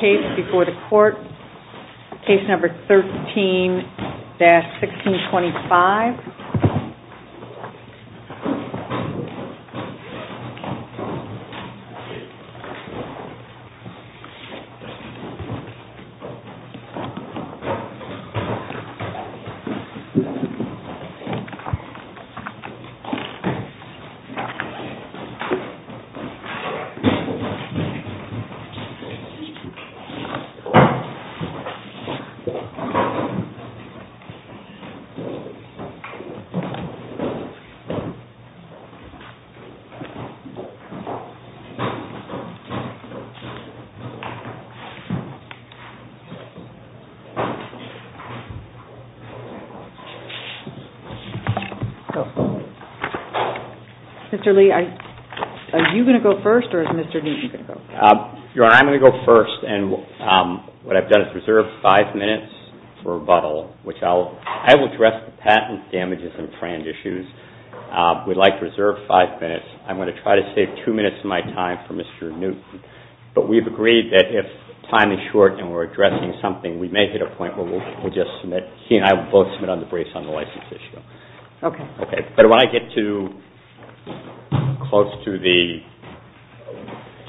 Case before the court, case number 13-1625. Mr. Lee, are you going to go first or is Mr. Lee going to go first? I'm going to go first and what I've done is reserve five minutes for rebuttal. I will address the patent damages and trans issues. I would like to reserve five minutes. I'm going to try to save two minutes of my time for Mr. Newt. But we've agreed that if time is short and we're addressing something, we may get a point where we'll just submit. He and I will both submit on the brace on the license issue. But when I get too close to the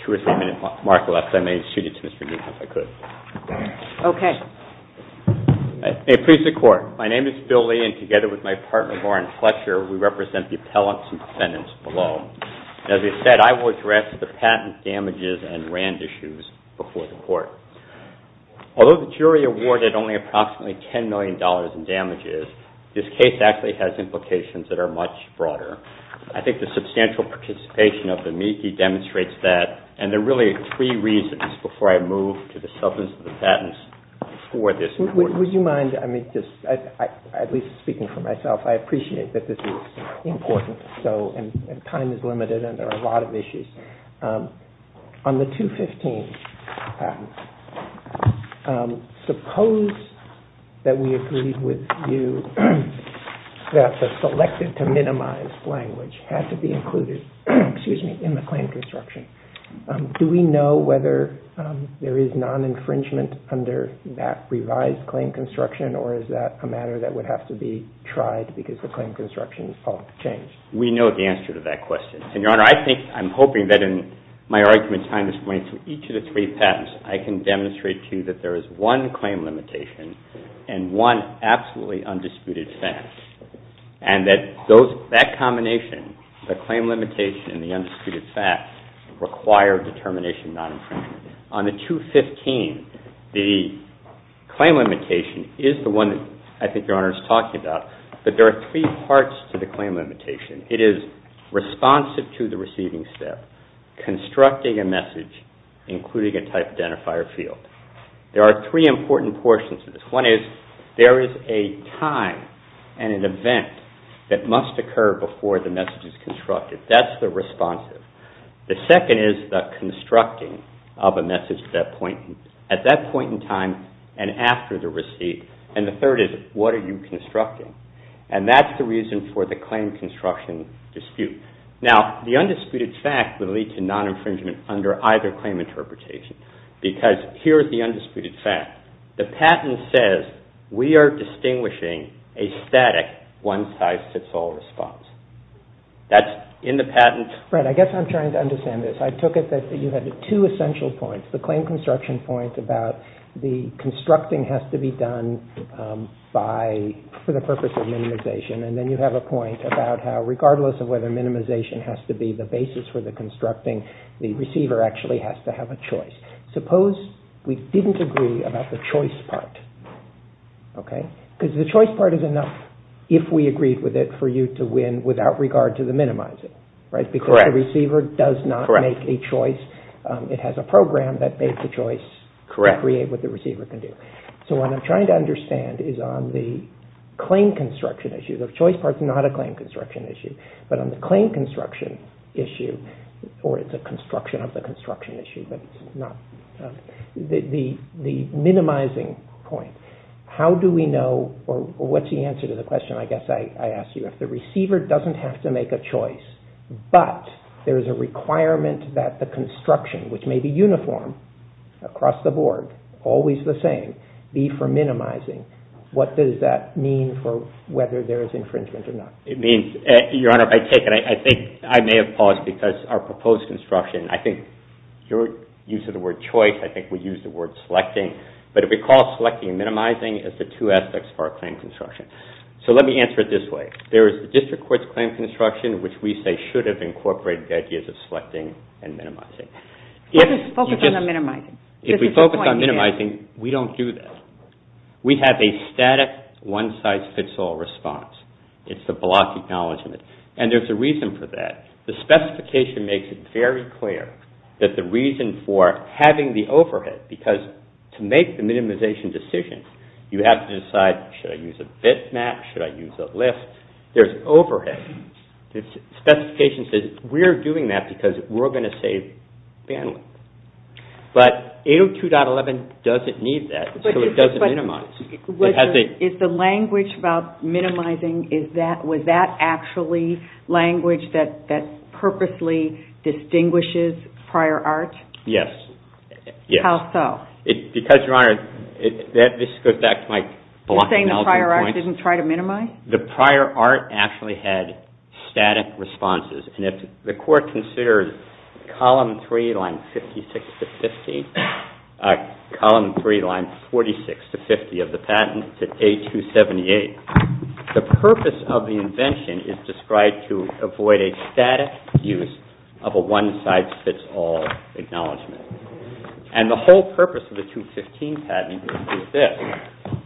two or three minute mark left, I may exceed it to Mr. Newt if I could. Okay. May it please the court. My name is Bill Lee and together with my partner, Warren Fletcher, we represent the appellants and defendants below. As we've said, I will address the patent damages and rand issues before the court. Although the jury awarded only approximately $10 million in damages, this case actually has implications that are much broader. I think the substantial participation of the meeting demonstrates that and there are really three reasons before I move to the substance of the patents for this court. Would you mind, at least speaking for myself, I appreciate that this is important and time is limited and there are a lot of issues. On the 215 patent, suppose that we agreed with you that the selected to minimize language had to be included in the claim construction. Do we know whether there is non-infringement under that revised claim construction or is that a matter that would have to be tried because the claim construction is changed? We know the answer to that question. And, Your Honor, I think, I'm hoping that in my argument time is going to each of the three patents, I can demonstrate to you that there is one claim limitation and one absolutely undisputed fact and that combination, the claim limitation and the undisputed fact, require determination non-infringement. On the 215, the claim limitation is the one I think Your Honor is talking about, but there are three parts to the claim limitation. It is responsive to the receiving step, constructing a message, including a type identifier field. There are three important portions to this. One is there is a time and an event that must occur before the message is constructed. That's the responsive. The second is the constructing of a message at that point in time and after the receipt. And the third is what are you constructing? And that's the reason for the claim construction dispute. Now, the undisputed fact would lead to non-infringement under either claim interpretation because here is the undisputed fact. The patent says we are distinguishing a static one-size-fits-all response. That's in the patent. Fred, I guess I'm trying to understand this. I took it that you had two essential points, the claim construction point about the constructing has to be done for the purpose of minimization, and then you have a point about how regardless of whether minimization has to be the basis for the constructing, the receiver actually has to have a choice. Suppose we didn't agree about the choice part, okay, because the choice part is enough if we agreed with it for you to win without regard to the minimizing, right? Because the receiver does not make a choice. It has a program that makes a choice. Correct. Create what the receiver can do. So what I'm trying to understand is on the claim construction issue, the choice part is not a claim construction issue, but on the claim construction issue or it's a construction of the construction issue, but the minimizing point, how do we know or what's the answer to the question? But there's a requirement that the construction, which may be uniform across the board, always the same, be for minimizing. What does that mean for whether there is infringement or not? It means, Your Honor, I think I may have paused because our proposed construction, I think your use of the word choice, I think we use the word selecting, but if we call selecting and minimizing as the two aspects for our claim construction. So let me answer it this way. There is a district court's claim construction, which we say should have incorporated the ideas of selecting and minimizing. What is the focus on minimizing? If we focus on minimizing, we don't do that. We have a static one-size-fits-all response. It's the block acknowledgment, and there's a reason for that. The specification makes it very clear that the reason for having the overhead, because to make the minimization decision, you have to decide, should I use a bitmap, should I use a list? There's overhead. The specification says we're doing that because we're going to save bandwidth. But 802.11 doesn't need that, so it doesn't minimize. Is the language about minimizing, was that actually language that purposely distinguishes prior art? Yes. How so? Because, Your Honor, this goes back to my block acknowledgment. You're saying the prior art didn't try to minimize? The prior art actually had static responses, and if the court considers Column 3, Line 56 to 50, Column 3, Line 46 to 50 of the patent to 8278, the purpose of the invention is described to avoid a static use of a one-size-fits-all acknowledgment. And the whole purpose of the 215 patent is this.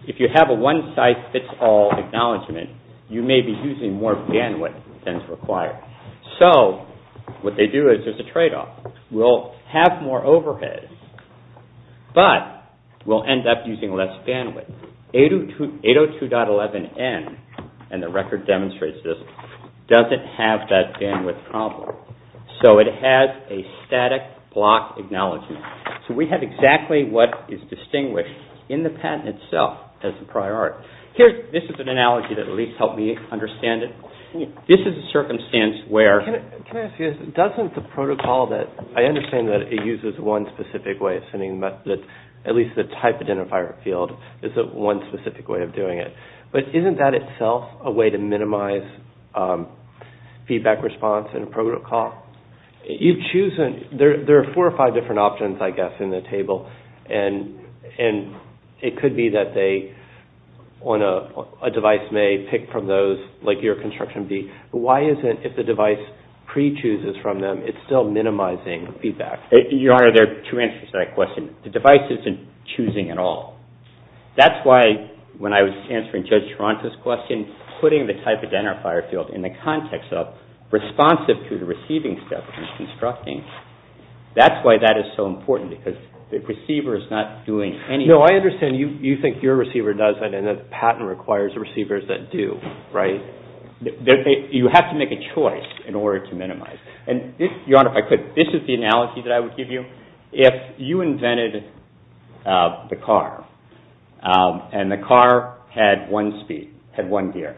If you have a one-size-fits-all acknowledgment, you may be using more bandwidth than is required. So, what they do is there's a tradeoff. We'll have more overhead, but we'll end up using less bandwidth. 802.11n, and the record demonstrates this, doesn't have that bandwidth problem. So, it has a static block acknowledgment. So, we have exactly what is distinguished in the patent itself as a prior art. Here, this is an analogy that at least helped me understand it. This is a circumstance where... Can I ask you, doesn't the protocol that... I understand that it uses one specific way of sending, but at least the type identifier field is one specific way of doing it. But isn't that itself a way to minimize feedback response and protocol? You choose... There are four or five different options, I guess, in the table. And it could be that they... A device may pick from those, like your construction B. Why is it if the device pre-chooses from them, it's still minimizing feedback? Your Honor, to answer that question, the device isn't choosing at all. That's why, when I was answering Judge Toronto's question, putting the type identifier field in the context of responsive to the receiving steps and constructing, that's why that is so important, because the receiver is not doing any... No, I understand. You think your receiver does it, and the patent requires receivers that do, right? You have to make a choice in order to minimize. And this, Your Honor, if I could, this is the analogy that I would give you. If you invented the car, and the car had one speed, had one gear,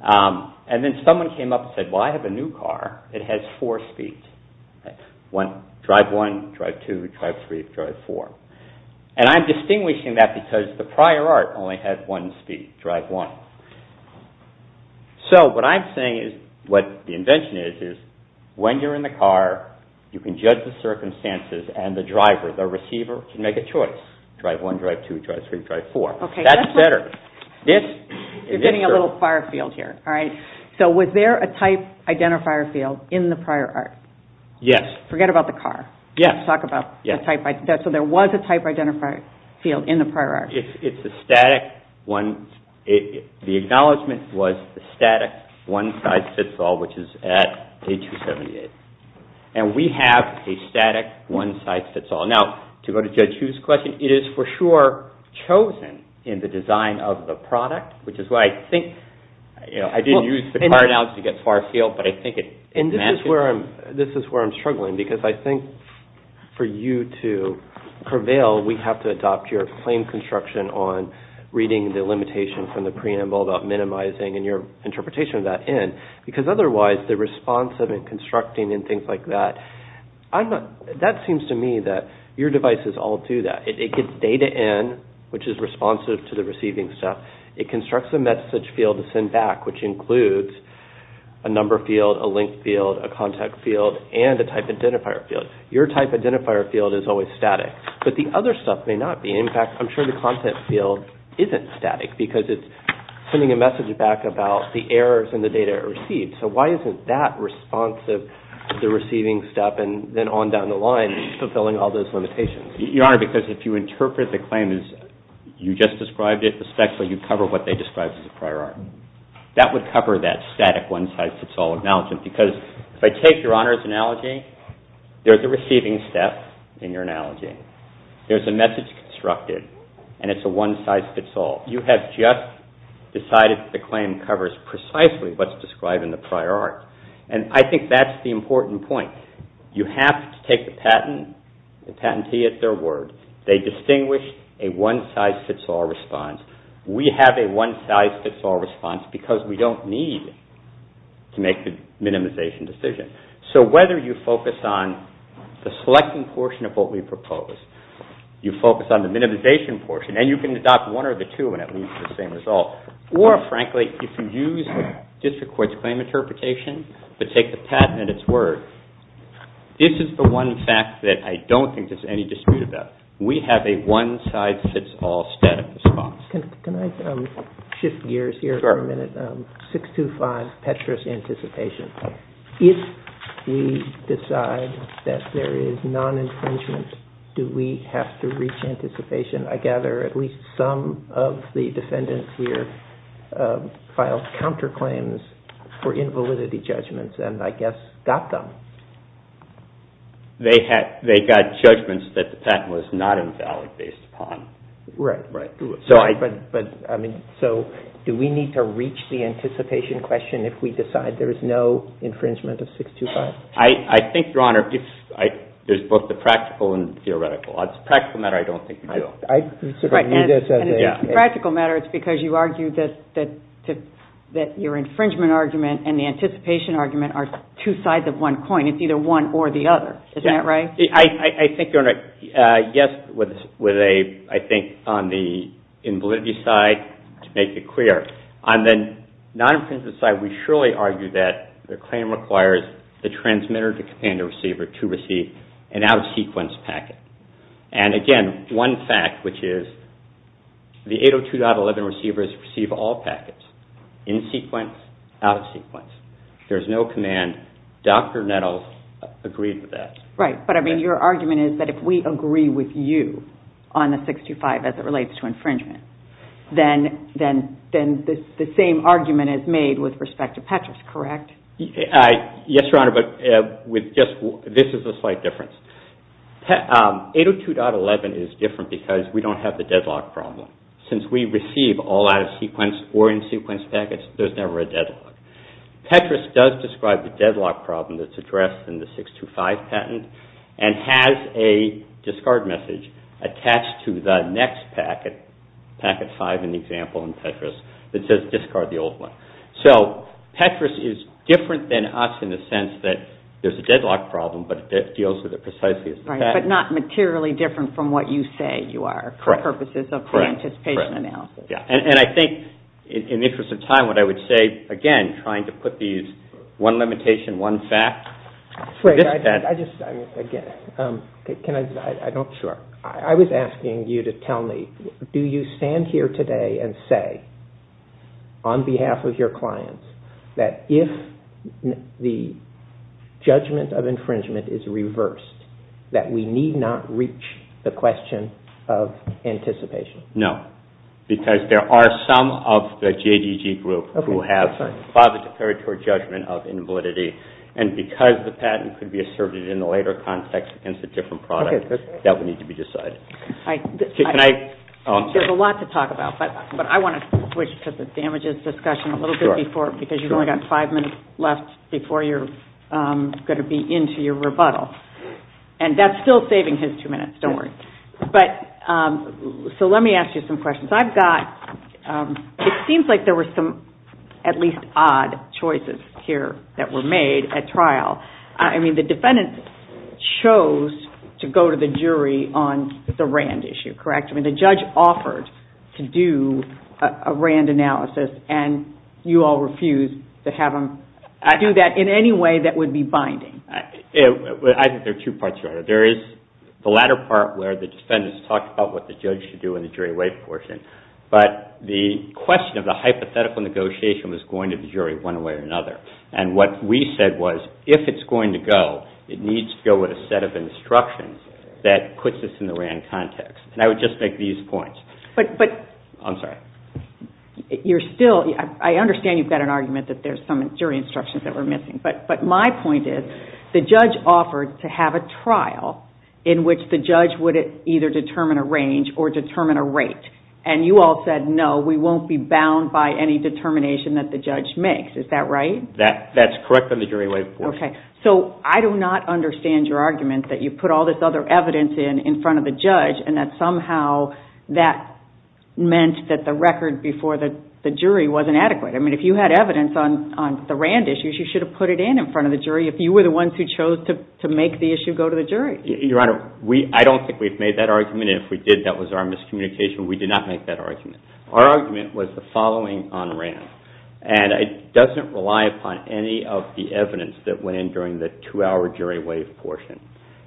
and then someone came up and said, well, I have a new car, it has four speeds. One, drive one, drive two, drive three, drive four. And I'm distinguishing that because the prior art only had one speed, drive one. So, what I'm saying is, what the invention is, when you're in the car, you can judge the circumstances, and the driver, the receiver, can make a choice. Drive one, drive two, drive three, drive four. That's better. You're getting a little far field here, all right? So, was there a type identifier field in the prior art? Yes. Forget about the car. Yes. So, there was a type identifier field in the prior art. It's a static one. The acknowledgment was the static one-side fits all, which is at A278. And we have a static one-side fits all. Now, to go to Judge Hu's question, it is for sure chosen in the design of the product, which is why I think, you know, I didn't use the prior arts to get far field, but I think it matches. And this is where I'm struggling, because I think for you to prevail, we have to adopt your plain construction on reading the limitation from the preamble about minimizing and your interpretation of that in. Because otherwise, the responsive and constructing and things like that, that seems to me that your devices all do that. It gets data in, which is responsive to the receiving stuff. It constructs a message field to send back, which includes a number field, a link field, a contact field, and a type identifier field. Your type identifier field is always static. But the other stuff may not be. In fact, I'm sure the content field isn't static, because it's sending a message back about the errors and the data it received. So why isn't that responsive to the receiving stuff and then on down the line fulfilling all those limitations? Your Honor, because if you interpret the claim as you just described it, especially you cover what they described as a prior art, that would cover that static one-side fits all announcement. Because if I take Your Honor's analogy, there's a receiving step in your analogy. There's a message constructed, and it's a one-size-fits-all. You have just decided that the claim covers precisely what's described in the prior art. And I think that's the important point. You have to take the patent, the patentee at their word. They distinguish a one-size-fits-all response. We have a one-size-fits-all response, because we don't need to make the minimization decision. So whether you focus on the selecting portion of what we propose, you focus on the minimization portion, and you can adopt one or the two and at least the same result. Or frankly, if you use the district court's claim interpretation to take the patent at its word, this is the one fact that I don't think there's any dispute about. We have a one-size-fits-all static response. Can I shift gears here for a minute? 625, Petra's anticipation. If we decide that there is non-impringement, do we have to reach anticipation? I gather at least some of the defendants here filed counterclaims for invalidity judgments, and I guess got them. They got judgments that the patent was not invalid based upon. Right, right. So do we need to reach the anticipation question if we decide there is no infringement of 625? I think, Your Honor, there's both the practical and theoretical. Practical matter, I don't think. Practical matter, it's because you argue that your infringement argument and the anticipation argument are two sides of one coin. It's either one or the other. Isn't that right? I think you're right. Yes, I think on the invalidity side, to make it clear. On the non-infringement side, we surely argue that the claim requires the transmitter and the receiver to receive an out-of-sequence packet. And again, one fact, which is the 802.11 receivers receive all packets, in-sequence, out-of-sequence. There's no command. Dr. Nettles agreed to that. Right, but I mean, your argument is that if we agree with you on the 625 as it relates to infringement, then the same argument is made with respect to Petras, correct? Yes, Your Honor, but this is a slight difference. 802.11 is different because we don't have the deadlock problem. Since we receive all out-of-sequence or in-sequence packets, there's never a deadlock. Petras does describe the deadlock problem that's addressed in the 625 patent and has a discard message attached to the next packet, packet 5, in the example in Petras, that says discard the old one. So Petras is different than us in the sense that there's a deadlock problem, but it deals with it precisely as a fact. Right, but not materially different from what you say you are, for purposes of pre-anticipation analysis. Correct. And I think, in the interest of time, what I would say, again, trying to put these one limitation, one fact, I just, again, can I, I don't, I was asking you to tell me, do you stand here today and say, on behalf of your clients, that if the judgment of infringement is reversed, that we need not reach the question of anticipation? No, because there are some of the JGG group who have positive territory judgment of invalidity, and because the patent could be asserted in the later context against a different product, that would need to be decided. Can I? There's a lot to talk about, but I want to switch to the damages discussion a little bit before, because you've only got five minutes left before you're going to be into your rebuttal. And that's still saving him two minutes, don't worry. But, so let me ask you some questions. Because I've got, it seems like there were some at least odd choices here that were made at trial. I mean, the defendant chose to go to the jury on the RAND issue, correct? I mean, the judge offered to do a RAND analysis, and you all refused to have him do that in any way that would be binding. I think there are two parts to it. There is the latter part where the defendants talked about what the judge should do in the jury rate portion, but the question of the hypothetical negotiation was going to the jury one way or another. And what we said was, if it's going to go, it needs to go with a set of instructions that puts this in the RAND context. And I would just make these points. I'm sorry. You're still, I understand you've got an argument that there's some jury instructions that were missing, but my point is, the judge offered to have a trial in which the judge would either determine a range or determine a rate. And you all said, no, we won't be bound by any determination that the judge makes. Is that right? That's correct in the jury rate portion. Okay. So I do not understand your argument that you put all this other evidence in in front of the judge, and that somehow that meant that the record before the jury wasn't adequate. I mean, if you had evidence on the RAND issues, you should have put it in in front of the jury if you were the ones who chose to make the issue go to the jury. Your Honor, I don't think we've made that argument. And if we did, that was our miscommunication. We did not make that argument. Our argument was the following on RAND. And it doesn't rely upon any of the evidence that went in during the two-hour jury rate portion.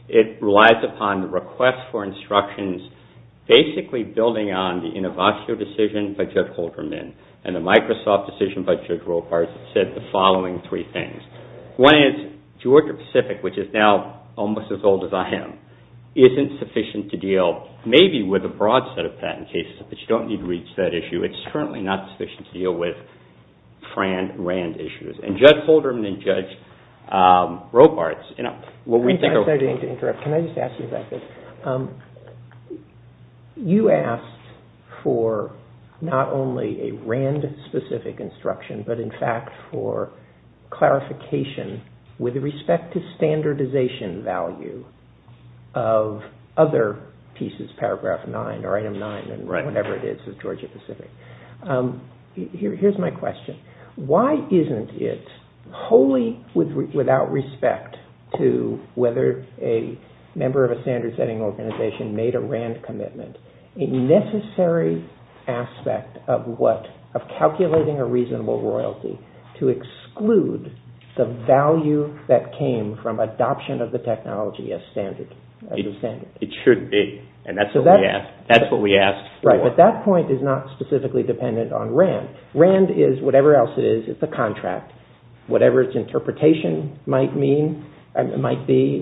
It relies upon the request for instructions, basically building on the Innovoxia decision by Judge Holderman and the Microsoft decision by Judge Robarts that said the following three things. One is Georgia-Pacific, which is now almost as old as I am, isn't sufficient to deal maybe with a broad set of patent cases, but you don't need to reach that issue. It's certainly not sufficient to deal with FRAND and RAND issues. And Judge Holderman and Judge Robarts, you know, what we think of – you asked for not only a RAND-specific instruction, but in fact for clarification with respect to standardization value of other pieces, paragraph 9 or item 9 or whatever it is of Georgia-Pacific. Here's my question. Why isn't it wholly without respect to whether a member of a standard-setting organization made a RAND commitment a necessary aspect of calculating a reasonable royalty to exclude the value that came from adoption of the technology as a standard? It should be, and that's what we ask. Right, but that point is not specifically dependent on RAND. RAND is whatever else it is. It's a contract. Whatever its interpretation might be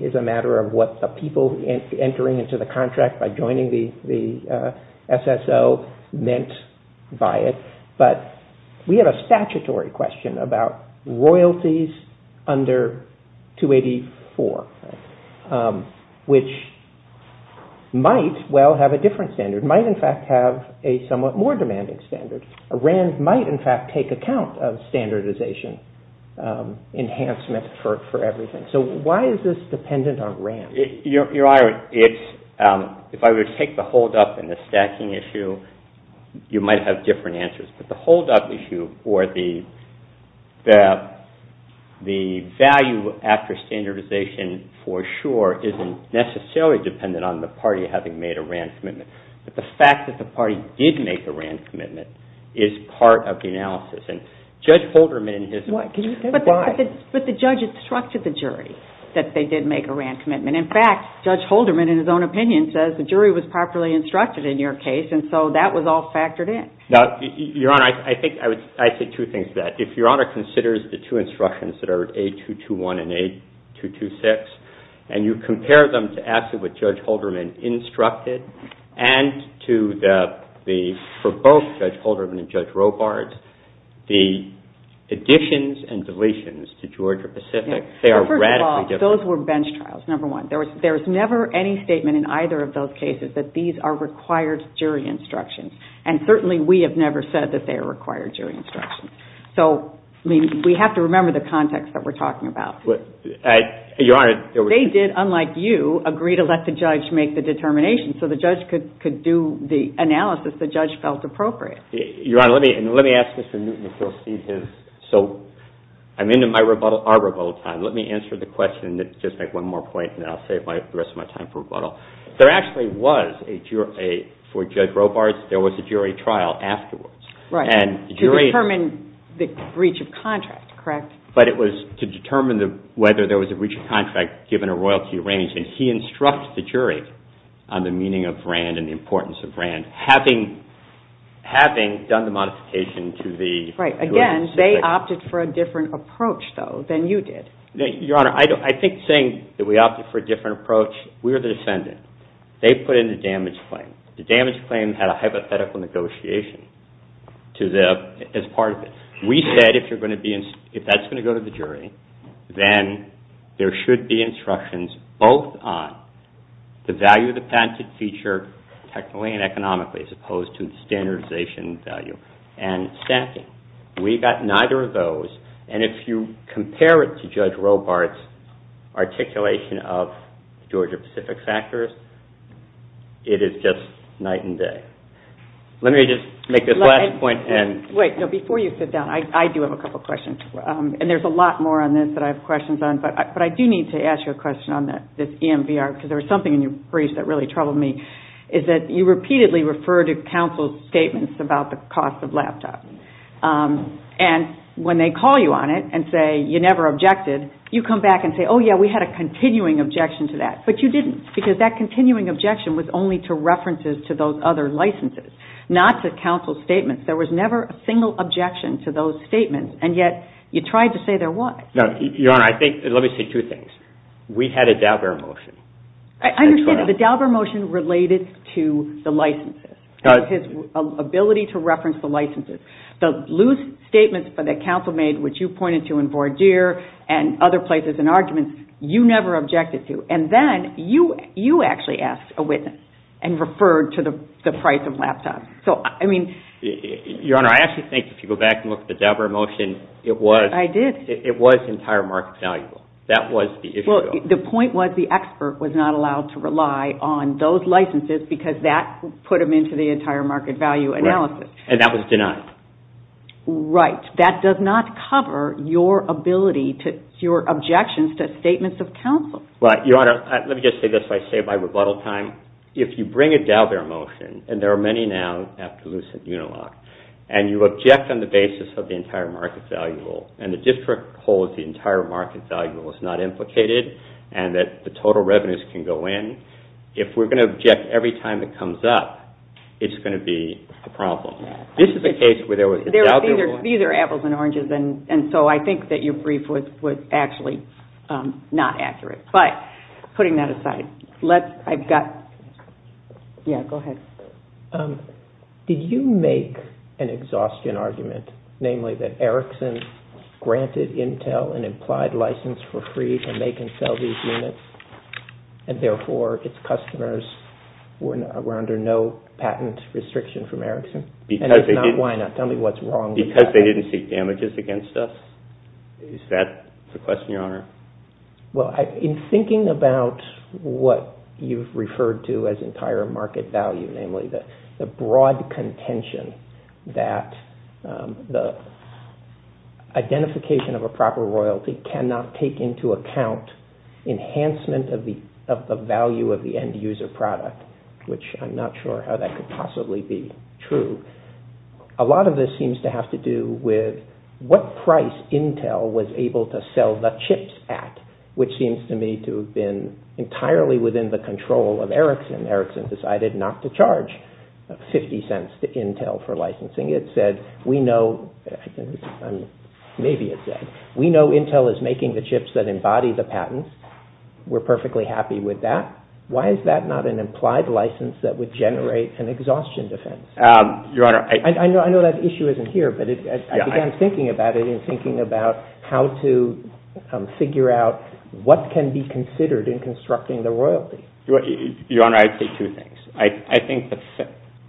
is a matter of people entering into the contract by joining the SSO meant by it. But we have a statutory question about royalties under 284, which might well have a different standard, might in fact have a somewhat more demanding standard. A RAND might in fact take account of standardization enhancement for everything. So why is this dependent on RAND? Your Honor, if I were to take the hold-up and the stacking issue, you might have different answers. But the hold-up issue or the value after standardization for sure isn't necessarily dependent on the party having made a RAND commitment. But the fact that the party did make a RAND commitment is part of the analysis. And Judge Holderman has- But the judge instructed the jury that they did make a RAND commitment. In fact, Judge Holderman in his own opinion says the jury was properly instructed in your case, and so that was all factored in. Now, Your Honor, I think I would say two things to that. If Your Honor considers the two instructions that are A-221 and A-226, and you compare them to actually what Judge Holderman instructed, and to the-for both Judge Holderman and Judge Robart, the additions and deletions to Georgia-Pacific, they are radically different. First of all, those were bench trials, number one. There was never any statement in either of those cases that these are required jury instructions. And certainly we have never said that they are required jury instructions. So we have to remember the context that we're talking about. Your Honor, there was- They did, unlike you, agree to let the judge make the determination, so the judge could do the analysis the judge felt appropriate. Your Honor, let me ask Mr. Newton if he'll cede his- So I'm into my rebuttal-our rebuttal time. Let me answer the question and just make one more point, and then I'll save the rest of my time for rebuttal. There actually was a jury-for Judge Robart, there was a jury trial afterwards. Right. And the jury- To determine the breach of contract, correct? But it was to determine whether there was a breach of contract given a royalty arrangement. He instructed the jury on the meaning of brand and the importance of brand, having done the modification to the- Right. Again, they opted for a different approach, though, than you did. Your Honor, I think saying that we opted for a different approach, we were the descendant. They put in the damage claim. The damage claim had a hypothetical negotiation to them as part of it. We said if you're going to be-if that's going to go to the jury, then there should be instructions both on the value of the patented feature technically and economically as opposed to the standardization value. And we got neither of those. And if you compare it to Judge Robart's articulation of Georgia-Pacific factors, it is just night and day. Let me just make this last point and- I do have a couple questions. And there's a lot more on this that I have questions on. But I do need to ask you a question on this EMBR, because there was something in your briefs that really troubled me, is that you repeatedly referred to counsel's statements about the cost of laptops. And when they call you on it and say you never objected, you come back and say, oh, yeah, we had a continuing objection to that. But you didn't, because that continuing objection was only to references to those other licenses, not to counsel's statements. There was never a single objection to those statements. And yet you tried to say there was. Your Honor, let me say two things. We had a Daubert motion. I understand. The Daubert motion related to the licenses, his ability to reference the licenses. The loose statements that counsel made, which you pointed to in Vordier and other places in arguments, you never objected to. And then you actually asked a witness and referred to the price of laptops. Your Honor, I actually think if you go back and look at the Daubert motion, it was entire market value. That was the issue. The point was the expert was not allowed to rely on those licenses because that put them into the entire market value analysis. And that was denied. Right. That does not cover your ability, your objections to statements of counsel. Your Honor, let me just say this so I save my rebuttal time. If you bring a Daubert motion, and there are many now after loose and unilocked, and you object on the basis of the entire market value rule and the district holds the entire market value rule is not implicated and that the total revenues can go in, if we're going to object every time it comes up, it's going to be a problem. This is a case where there was a Daubert motion. These are apples and oranges, and so I think that your brief was actually not accurate. But putting that aside, yeah, go ahead. Did you make an exhaustion argument, namely that Erickson granted Intel an implied license for free and they can sell these units, and therefore its customers were under no patent restriction from Erickson? And if not, why not? Tell me what's wrong with that. Is that the question, Your Honor? Well, in thinking about what you've referred to as entire market value, namely the broad contention that the identification of a proper royalty cannot take into account enhancement of the value of the end user product, which I'm not sure how that could possibly be true. A lot of this seems to have to do with what price Intel was able to sell the chips at, which seems to me to have been entirely within the control of Erickson. Erickson decided not to charge 50 cents to Intel for licensing. It said, we know Intel is making the chips that embody the patents. We're perfectly happy with that. Why is that not an implied license that would generate an exhaustion defense? I know that issue isn't here, but I began thinking about it in thinking about how to figure out what can be considered in constructing the royalty. Your Honor, I'd say two things. I think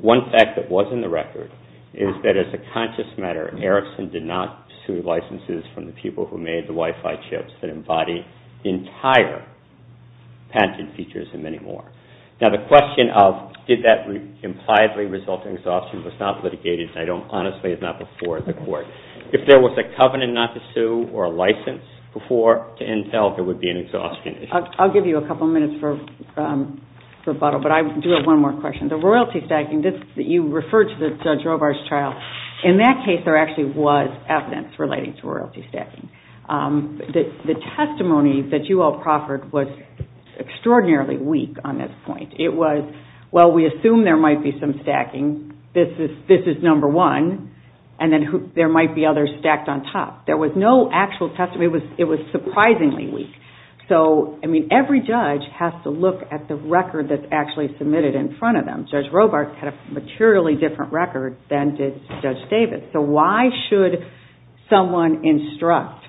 one fact that was in the record is that, as a conscious matter, Erickson did not sue licenses from the people who made the Wi-Fi chips that embody entire patented features and many more. Now, the question of did that impliedly result in exhaustion was not litigated, and honestly, it's not before the court. If there was a covenant not to sue or a license before to Intel, there would be an exhaustion issue. I'll give you a couple minutes for rebuttal, but I do have one more question. The royalty stacking, you referred to Judge Robar's trial. In that case, there actually was evidence relating to royalty stacking. The testimony that you all proffered was extraordinarily weak on this point. It was, well, we assume there might be some stacking. This is number one, and then there might be others stacked on top. There was no actual testimony. It was surprisingly weak. So, I mean, every judge has to look at the record that's actually submitted in front of them. Judge Robar had a materially different record than did Judge Davis. So why should someone instruct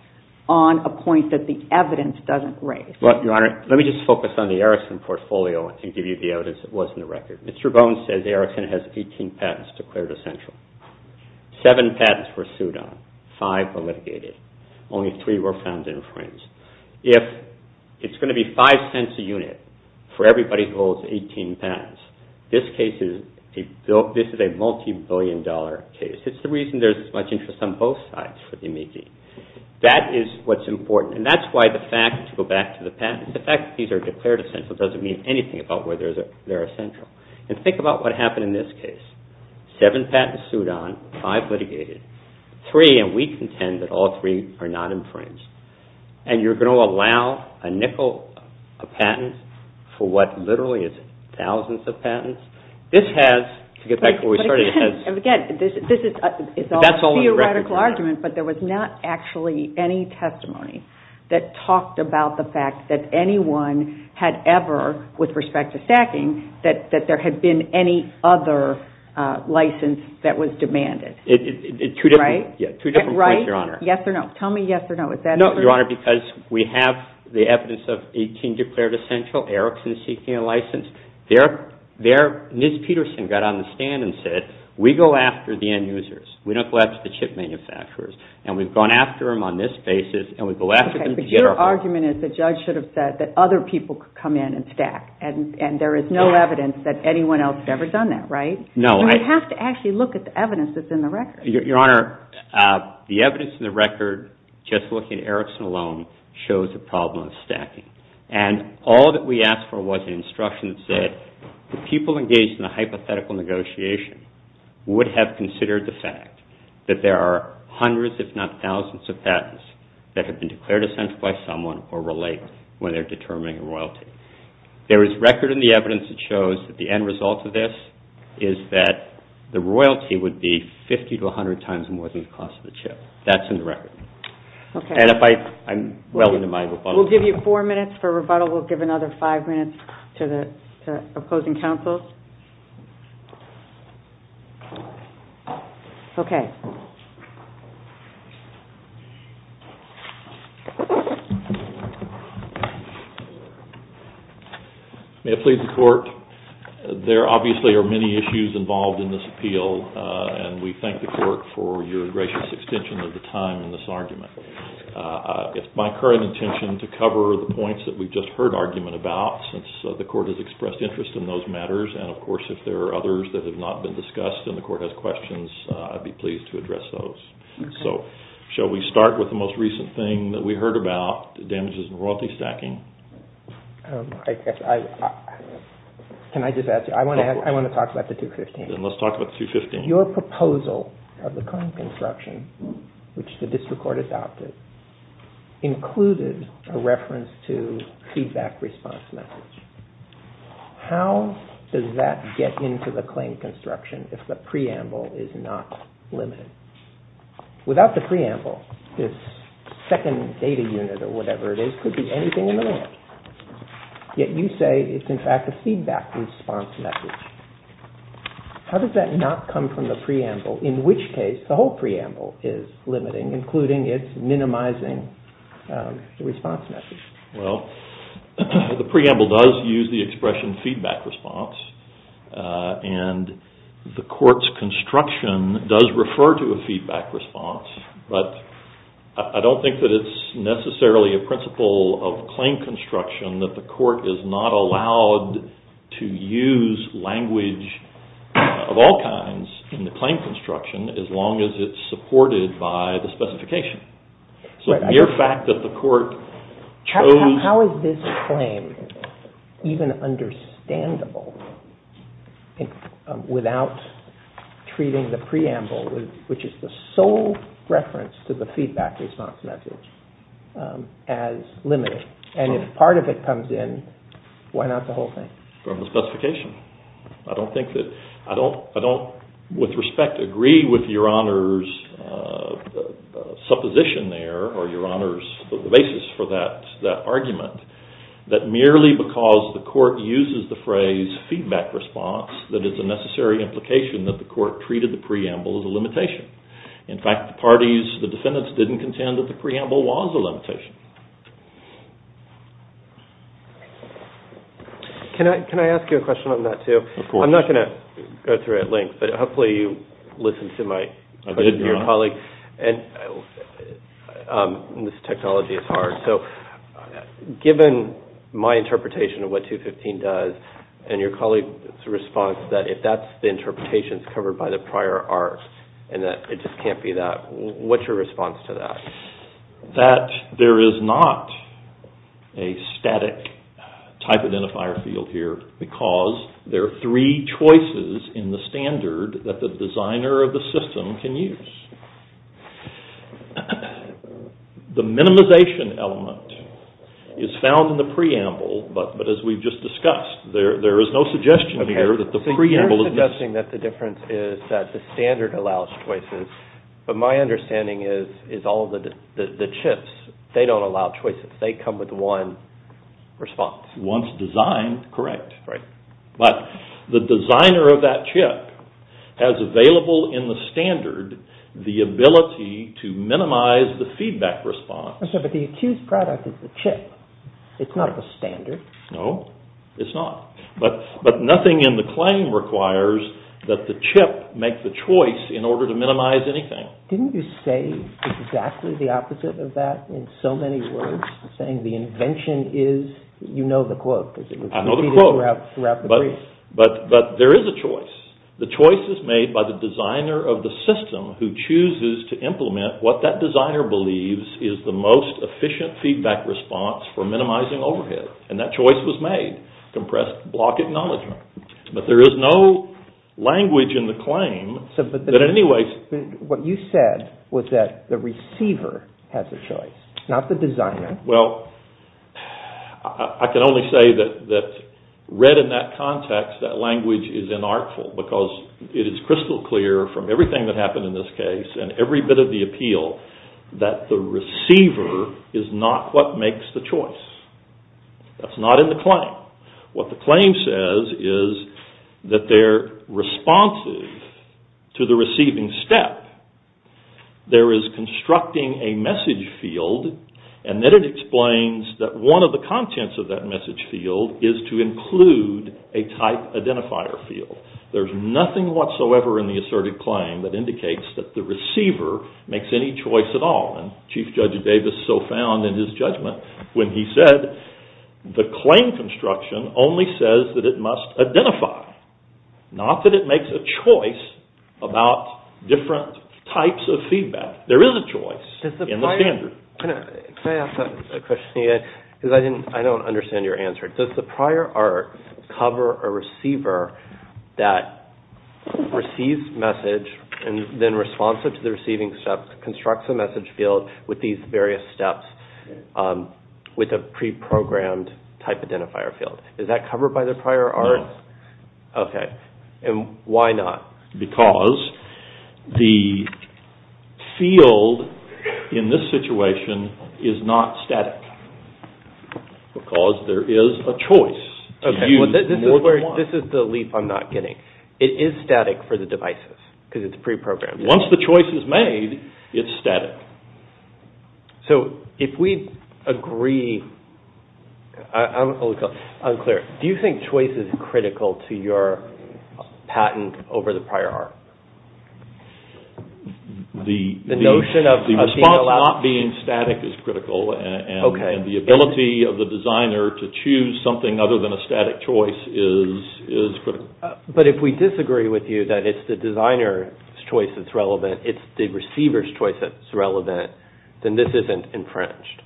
on a point that the evidence doesn't raise? Well, Your Honor, let me just focus on the Erickson portfolio to give you the evidence that was in the record. Mr. Bones said the Erickson has 18 patents declared essential. Seven patents were sued on. Five were litigated. Only three were found infringed. If it's going to be $0.05 a unit for everybody who holds 18 patents, this is a multi-billion-dollar case. It's the reason there's so much interest on both sides for the immediate. That is what's important, and that's why the fact, to go back to the patents, the fact that these are declared essential doesn't mean anything about whether they're essential. And think about what happened in this case. Seven patents sued on. Five litigated. Three, and we contend that all three are not infringed. And you're going to allow a nickel of patents for what literally is thousands of patents? This has, to get back to where we started, this has... Again, this is a theoretical argument, but there was not actually any testimony that talked about the fact that anyone had ever, with respect to sacking, that there had been any other license that was demanded. Right? Two different points, Your Honor. Right? Yes or no. Tell me yes or no. Is that true? No, Your Honor, because we have the evidence of 18 declared essential, Erickson seeking a license. There, Ms. Peterson got on the stand and said, we go after the end users. We don't go after the chip manufacturers. And we've gone after them on this basis, and we go after them to get our... Okay, but your argument is the judge should have said that other people could come in and stack, and there is no evidence that anyone else has ever done that, right? No, I... We have to actually look at the evidence that's in the record. Your Honor, the evidence in the record, just looking at Erickson alone, shows the problem of stacking. And all that we asked for was instructions that people engaged in a hypothetical negotiation would have considered the fact that there are hundreds, if not thousands, of patents that have been declared essential by someone or relate when they're determining royalty. There is record in the evidence that shows that the end result of this is that the royalty would be 50 to 100 times more than the cost of the chip. That's in the record. Okay. And if I... We'll give you four minutes for rebuttal. We'll give another five minutes to the opposing counsel. Okay. May I plead the court? There obviously are many issues involved in this appeal, and we thank the court for your gracious extension of the time in this argument. It's my current intention to cover the points that we've just heard argument about since the court has expressed interest in those matters. And, of course, if there are others that have not been discussed and the court has questions, I'd be pleased to address those. So, shall we start with the most recent thing that we heard about, the damages in royalty stacking? Can I just ask you, I want to talk about the 215. Then let's talk about the 215. Your proposal of the claim construction, which the district court adopted, included a reference to feedback response methods. How does that get into the claim construction if the preamble is not limited? Without the preamble, this second data unit or whatever it is could be anything in the world. Yet you say it's, in fact, a feedback response method. How does that not come from the preamble, in which case the whole preamble is limiting, including its minimizing response method? Well, the preamble does use the expression feedback response, and the court's construction does refer to a feedback response, but I don't think that it's necessarily a principle of claim construction that the court is not allowed to use language of all kinds in the claim construction as long as it's supported by the specification. So the mere fact that the court chose... How is this claim even understandable without treating the preamble, which is the sole reference to the feedback response method, as limiting? And if part of it comes in, why not the whole thing? From the specification. I don't think that... I don't, with respect, agree with Your Honor's supposition there, or Your Honor's basis for that argument, that merely because the court uses the phrase feedback response that it's a necessary implication that the court treated the preamble as a limitation. In fact, the parties, the defendants, didn't contend that the preamble was a limitation. Can I ask you a question on that too? Of course. I'm not going to go through it at length, but hopefully you listened to my colleague. I did, Your Honor. And this technology is hard, so given my interpretation of what 215 does, and your colleague's response that if that's the interpretation, it's covered by the prior art, and that it just can't be that, what's your response to that? That there is not a static type identifier field here because there are three choices in the standard that the designer of the system can use. The minimization element is found in the preamble, but as we've just discussed, there is no suggestion here that the preamble is... You're suggesting that the difference is that the standard allows choices, but my understanding is all of the chips, they don't allow choices. They come with one response. One's designed, correct. Right. But the designer of that chip has available in the standard the ability to minimize the feedback response. But the accused product is the chip. It's not the standard. No, it's not. But nothing in the claim requires that the chip make the choice in order to minimize anything. Didn't you say exactly the opposite of that in so many words, saying the invention is, you know the quote. I know the quote, but there is a choice. The choice is made by the designer of the system who chooses to implement what that designer believes is the most efficient feedback response for minimizing overhead, and that choice was made, compressed block acknowledgement. But there is no language in the claim that in any way... What you said was that the receiver had the choice, not the designer. Well, I can only say that read in that context, that language is inartful because it is crystal clear from everything that happened in this case and every bit of the appeal that the receiver is not what makes the choice. That's not in the claim. What the claim says is that they're responsive to the receiving step. There is constructing a message field, and then it explains that one of the contents of that message field is to include a type identifier field. There's nothing whatsoever in the asserted claim that indicates that the receiver makes any choice at all, and Chief Judge Davis so found in his judgment when he said the claim construction only says that it must identify, not that it makes a choice about different types of feedback. There is a choice in the standard. Can I ask a question here? Because I don't understand your answer. Does the prior art cover a receiver that receives message and then responsive to the receiving step, constructs a message field with these various steps with a pre-programmed type identifier field? Is that covered by the prior art? No. Okay. And why not? Because the field in this situation is not static because there is a choice. This is the leap I'm not getting. It is static for the devices because it's pre-programmed. Once the choice is made, it's static. So if we agree, I'm unclear. Do you think choice is critical to your patent over the prior art? The response not being static is critical, and the ability of the designer to choose something other than a static choice is critical. But if we disagree with you that it's the designer's choice that's relevant, it's the receiver's choice that's relevant, then this isn't infringed.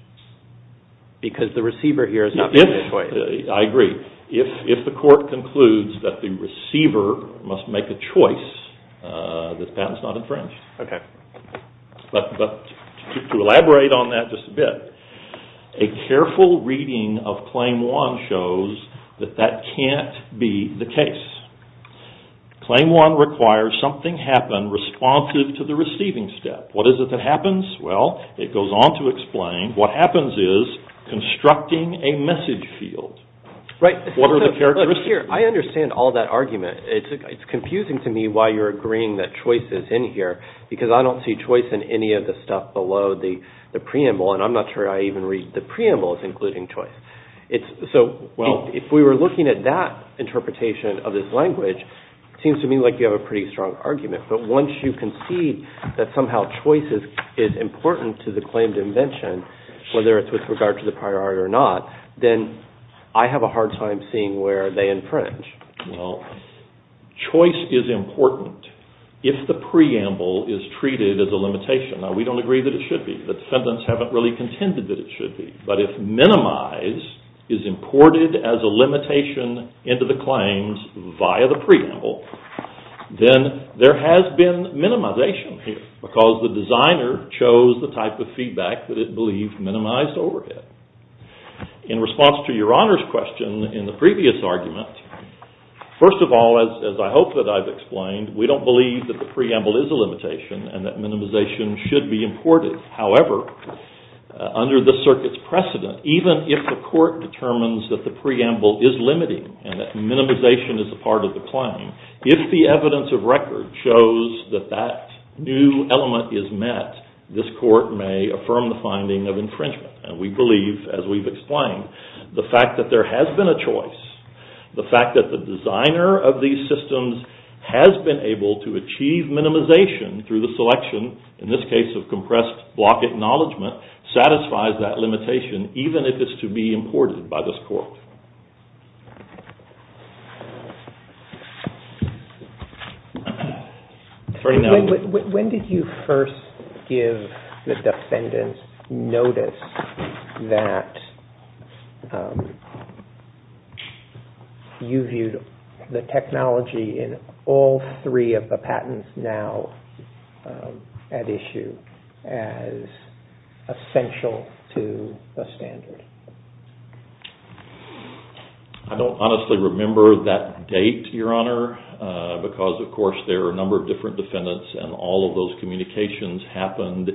Because the receiver here is not making a choice. I agree. If the court concludes that the receiver must make a choice, the patent is not infringed. Okay. But to elaborate on that just a bit, a careful reading of Claim 1 shows that that can't be the case. Claim 1 requires something happen responsive to the receiving step. What is it that happens? Well, it goes on to explain what happens is constructing a message field. Right. I understand all that argument. It's confusing to me why you're agreeing that choice is in here because I don't see choice in any of the stuff below the preamble, and I'm not sure I even read the preamble as including choice. If we were looking at that interpretation of this language, it seems to me like you have a pretty strong argument. But once you can see that somehow choice is important to the claim dimension, whether it's with regard to the prior art or not, then I have a hard time seeing where they infringe. Well, choice is important if the preamble is treated as a limitation. Now, we don't agree that it should be. The defendants haven't really contended that it should be. But if minimize is imported as a limitation into the claims via the preamble, then there has been minimization here because the designer chose the type of feedback that it believed minimized overhead. In response to Your Honor's question in the previous argument, first of all, as I hope that I've explained, we don't believe that the preamble is a limitation and that minimization should be imported. However, under the circuit's precedent, even if the court determines that the preamble is limiting and that minimization is a part of the claim, if the evidence of record shows that that new element is met, this court may affirm the finding of infringement. And we believe, as we've explained, the fact that there has been a choice, the fact that the designer of these systems has been able to achieve minimization through the selection, in this case of compressed block acknowledgment, satisfies that limitation even if it's to be imported by this court. When did you first give the defendants notice that you viewed the technology in all three of the patents now at issue as essential to the standard? I don't honestly remember that date, Your Honor, because of course there are a number of different defendants and all of those communications happened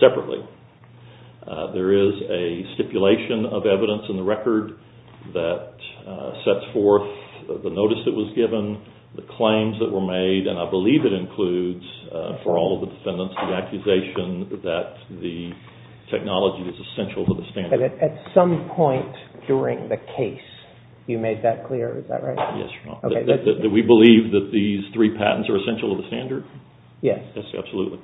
separately. There is a stipulation of evidence in the record that sets forth the notice that was given, the claims that were made, and I believe it includes for all of the defendants the accusation that the technology is essential to the standard. At some point during the case, you made that clear, is that right? Yes, Your Honor. Do we believe that these three patents are essential to the standard? Yes. Yes, absolutely.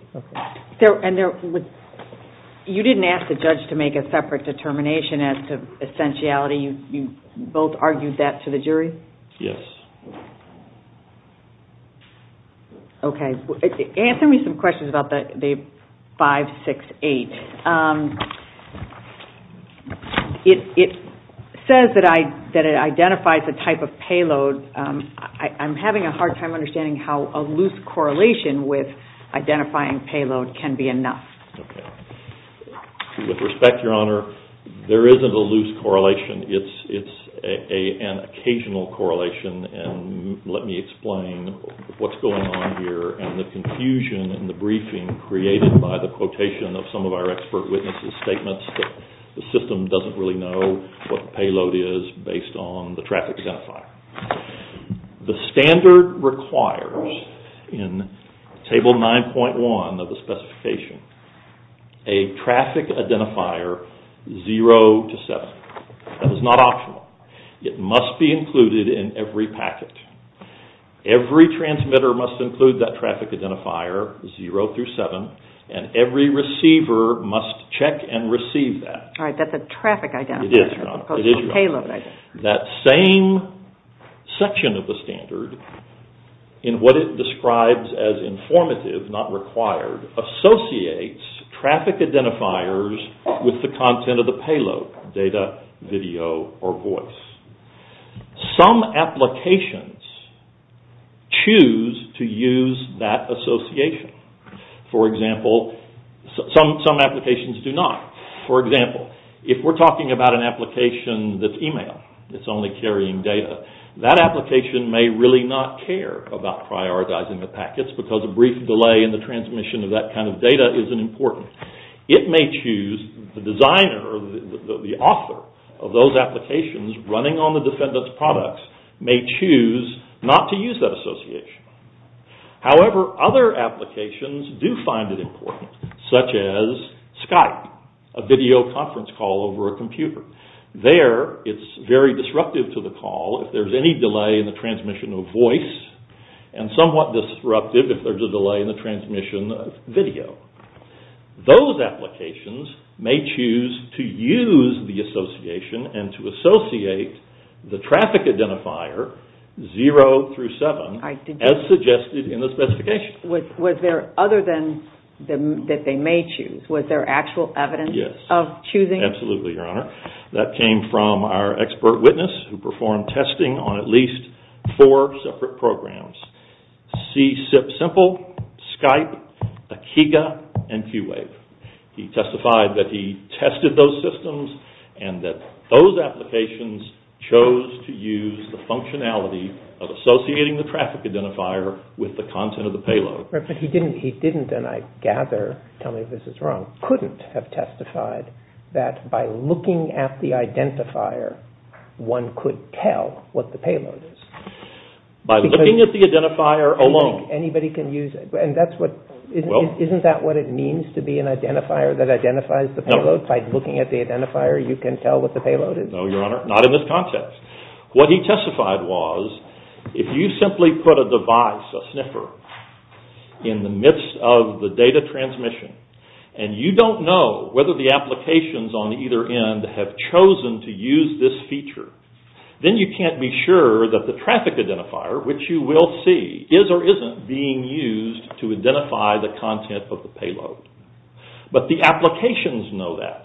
You didn't ask the judge to make a separate determination as to essentiality. You both argued that to the jury? Yes. Okay. Answer me some questions about the 568. It says that it identifies the type of payload. I'm having a hard time understanding how a loose correlation with identifying payload can be enough. Okay. With respect, Your Honor, there isn't a loose correlation. It's an occasional correlation, and let me explain what's going on here and the confusion in the briefing created by the quotation of some of our expert witnesses' statements that the system doesn't really know what the payload is based on the traffic identifier. The standard requires in Table 9.1 of the specification a traffic identifier 0 to 7. That is not optional. It must be included in every packet. Every transmitter must include that traffic identifier 0 through 7, and every receiver must check and receive that. All right. That's a traffic identifier as opposed to a payload identifier. That same section of the standard, in what it describes as informative, not required, associates traffic identifiers with the content of the payload, data, video, or voice. Some applications choose to use that association. For example, some applications do not. For example, if we're talking about an application that's e-mail that's only carrying data, that application may really not care about prioritizing the packets because a brief delay in the transmission of that kind of data isn't important. It may choose the designer or the author of those applications running on the defendant's products may choose not to use that association. However, other applications do find it important, such as Skype, a video conference call over a computer. There, it's very disruptive to the call if there's any delay in the transmission of voice and somewhat disruptive if there's a delay in the transmission of video. Those applications may choose to use the association and to associate the traffic identifier 0 through 7 as suggested in the specification. Was there, other than that they may choose, was there actual evidence of choosing? Absolutely, Your Honor. That came from our expert witness who performed testing on at least four separate programs, C-SIP Simple, Skype, Akiga, and Q-Wave. He testified that he tested those systems and that those applications chose to use the functionality of associating the traffic identifier with the content of the payload. But he didn't, and I gather, tell me this is wrong, couldn't have testified that by looking at the identifier, one could tell what the payload is. By looking at the identifier alone. Anybody can use it, and that's what, isn't that what it means to be an identifier that identifies the payload? By looking at the identifier, you can tell what the payload is? No, Your Honor, not in this concept. What he testified was, if you simply put a device, a sniffer, in the midst of the data transmission, and you don't know whether the applications on either end have chosen to use this feature, then you can't be sure that the traffic identifier, which you will see, is or isn't being used to identify the content of the payload. But the applications know that.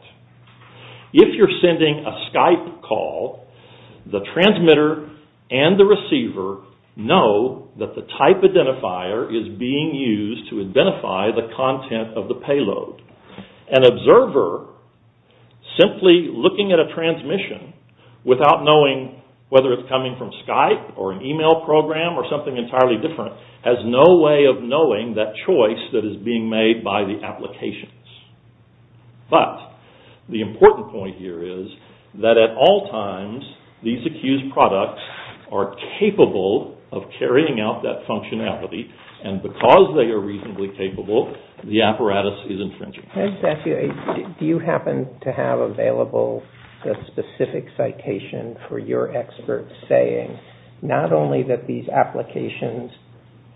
If you're sending a Skype call, the transmitter and the receiver know that the type identifier is being used to identify the content of the payload. An observer, simply looking at a transmission, without knowing whether it's coming from Skype, or an email program, or something entirely different, has no way of knowing that choice that is being made by the applications. But, the important point here is, that at all times, these accused products are capable of carrying out that functionality, and because they are reasonably capable, the apparatus is intrinsic. Do you happen to have available a specific citation for your experts saying, not only that these applications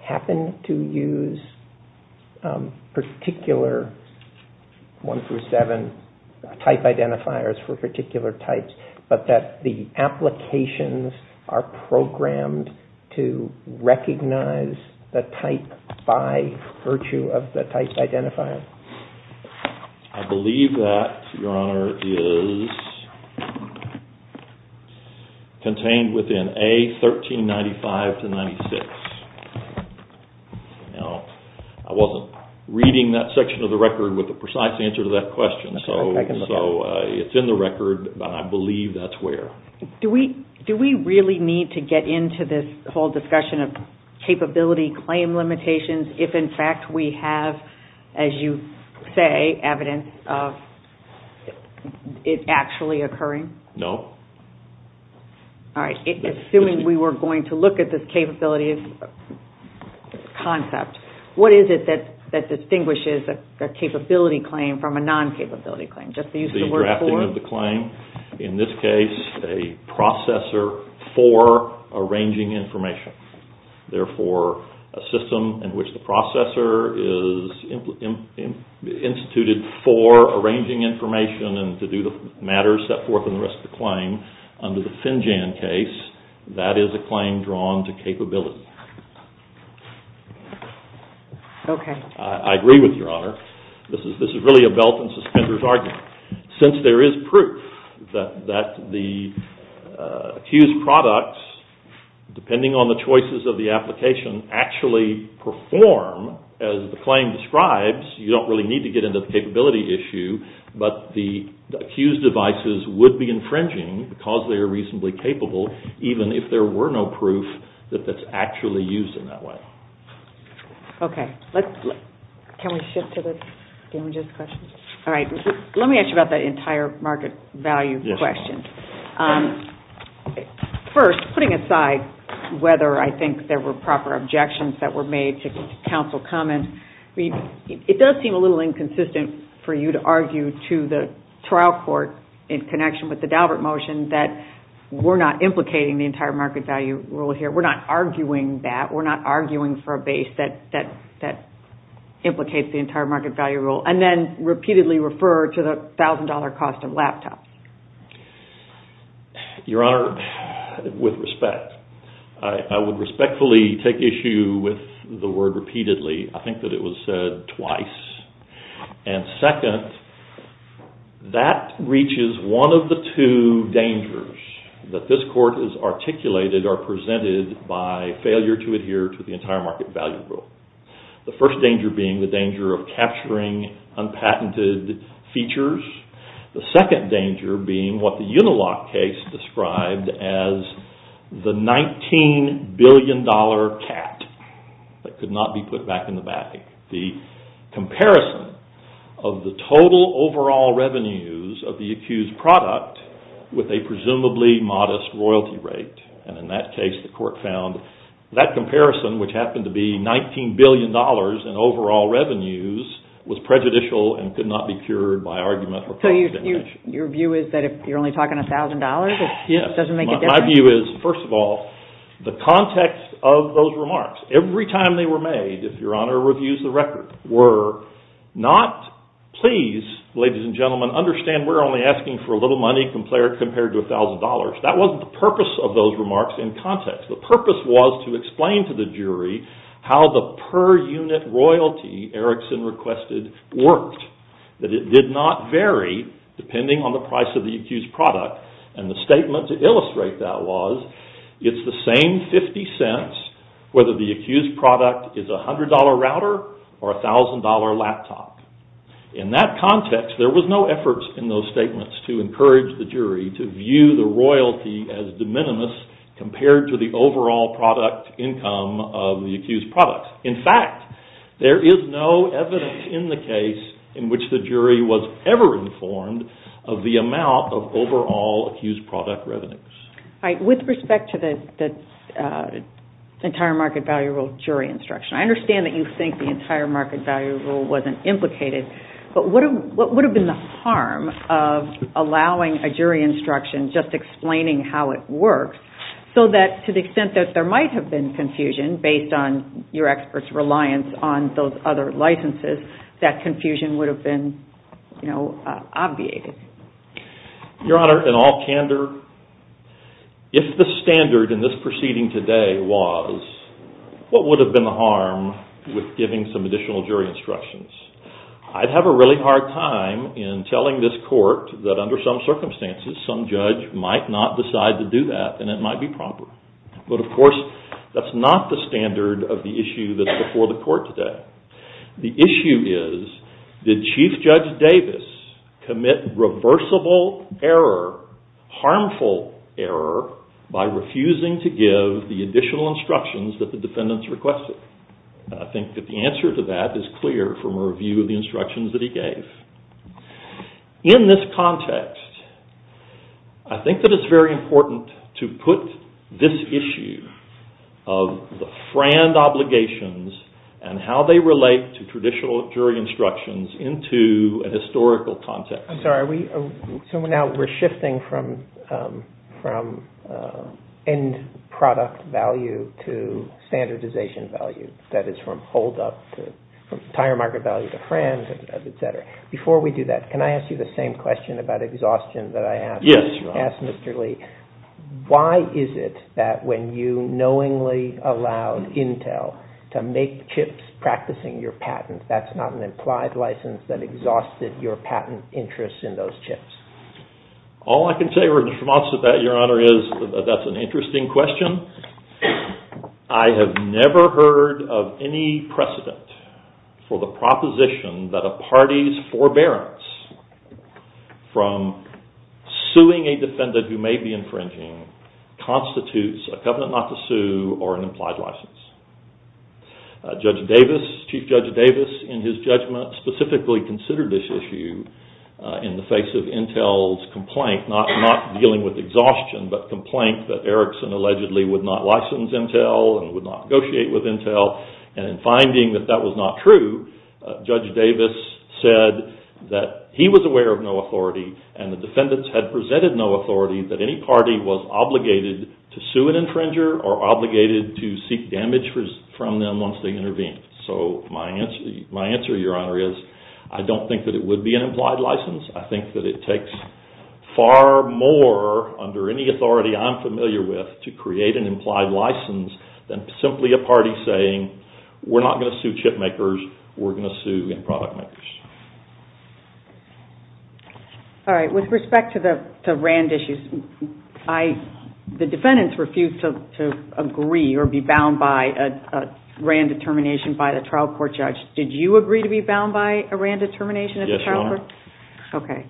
happen to use particular 1-7 type identifiers for particular types, but that the applications are programmed to recognize the type by virtue of the type identifier? I believe that, Your Honor, is contained within A1395-96. Now, I wasn't reading that section of the record with a precise answer to that question, so it's in the record, but I believe that's where. Do we really need to get into this whole discussion of capability claim limitations if, in fact, we have, as you say, evidence of it actually occurring? No. All right, assuming we were going to look at this capability, concept, what is it that distinguishes a capability claim from a non-capability claim? Just the use of the word for it? The drafting of the claim. In this case, a processor for arranging information. Therefore, a system in which the processor is instituted for arranging information and to do the matters set forth in the rest of the claim, under the FinJAN case, that is a claim drawn to capability. Okay. I agree with you, Your Honor. This is really a belt-and-suspenders argument. Since there is proof that the accused products, depending on the choices of the application, actually perform as the claim describes, you don't really need to get into the capability issue, but the accused devices would be infringing because they are reasonably capable, even if there were no proof that that's actually used in that way. Okay. Can we shift to the images question? All right. Let me ask you about the entire market value question. First, putting aside whether I think there were proper objections that were made to counsel comments, it does seem a little inconsistent for you to argue to the trial court in connection with the Daubert motion that we're not implicating the entire market value rule here. We're not arguing that. We're not arguing for a base that implicates the entire market value rule, and then repeatedly refer to the $1,000 cost of laptops. Your Honor, with respect, I would respectfully take issue with the word repeatedly. I think that it was said twice. And second, that reaches one of the two dangers that this court has articulated or presented by failure to adhere to the entire market value rule. The first danger being the danger of capturing unpatented features. The second danger being what the Unilock case described as the $19 billion cat that could not be put back in the bag. The comparison of the total overall revenues of the accused product with a presumably modest royalty rate. And in that case, the court found that comparison, which happened to be $19 billion in overall revenues, was prejudicial and could not be cured by argument. So your view is that if you're only talking $1,000, it doesn't make a difference? Yes. My view is, first of all, the context of those remarks. Every time they were made, if your Honor reviews the record, were not, please, ladies and gentlemen, understand we're only asking for a little money compared to $1,000. That wasn't the purpose of those remarks in context. The purpose was to explain to the jury how the per-unit royalty Erickson requested worked. That it did not vary depending on the price of the accused product. And the statement to illustrate that was, it's the same 50 cents whether the accused product is a $100 router or a $1,000 laptop. In that context, there was no efforts in those statements to encourage the jury to view the royalty as de minimis compared to the overall product income of the accused product. In fact, there is no evidence in the case in which the jury was ever informed of the amount of overall accused product revenues. With respect to the entire market value rule jury instruction, I understand that you think the entire market value rule wasn't implicated, but what would have been the harm of allowing a jury instruction just explaining how it works, so that to the extent that there might have been confusion based on your expert's reliance on those other licenses, that confusion would have been obviated? Your Honor, in all candor, if the standard in this proceeding today was, what would have been the harm with giving some additional jury instructions? I'd have a really hard time in telling this court that under some circumstances, some judge might not decide to do that, and it might be proper. But of course, that's not the standard of the issue that's before the court today. The issue is, did Chief Judge Davis commit reversible error, harmful error, by refusing to give the additional instructions that the defendants requested? And I think that the answer to that is clear from a review of the instructions that he gave. In this context, I think that it's very important to put this issue of the FRAND obligations and how they relate to traditional jury instructions into a historical context. I'm sorry, so now we're shifting from end product value to standardization value. That is from hold up to entire market value to FRAND, et cetera. Before we do that, can I ask you the same question about exhaustion that I asked? Yes, Your Honor. I asked Mr. Lee, why is it that when you knowingly allowed Intel to make chips practicing your patent, that's not an implied license that exhausted your patent interest in those chips? All I can say, Your Honor, is that's an interesting question. I have never heard of any precedent for the proposition that a party's forbearance from suing a defendant who may be infringing constitutes a covenant not to sue or an implied license. Judge Davis, Chief Judge Davis, in his judgment, specifically considered this issue in the face of Intel's complaint, not dealing with exhaustion, but complaint that Erickson allegedly would not license Intel and would not negotiate with Intel. And in finding that that was not true, Judge Davis said that he was aware of no authority and the defendants had presented no authority that any party was obligated to sue an infringer or obligated to seek damage from them once they intervened. So my answer, Your Honor, is I don't think that it would be an implied license. I think that it takes far more, under any authority I'm familiar with, to create an implied license than simply a party saying, we're not going to sue chip makers, we're going to sue the product makers. All right, with respect to the Rand issue, the defendants refused to agree or be bound by a Rand determination by the trial court judge. Did you agree to be bound by a Rand determination? Yes, Your Honor. Okay.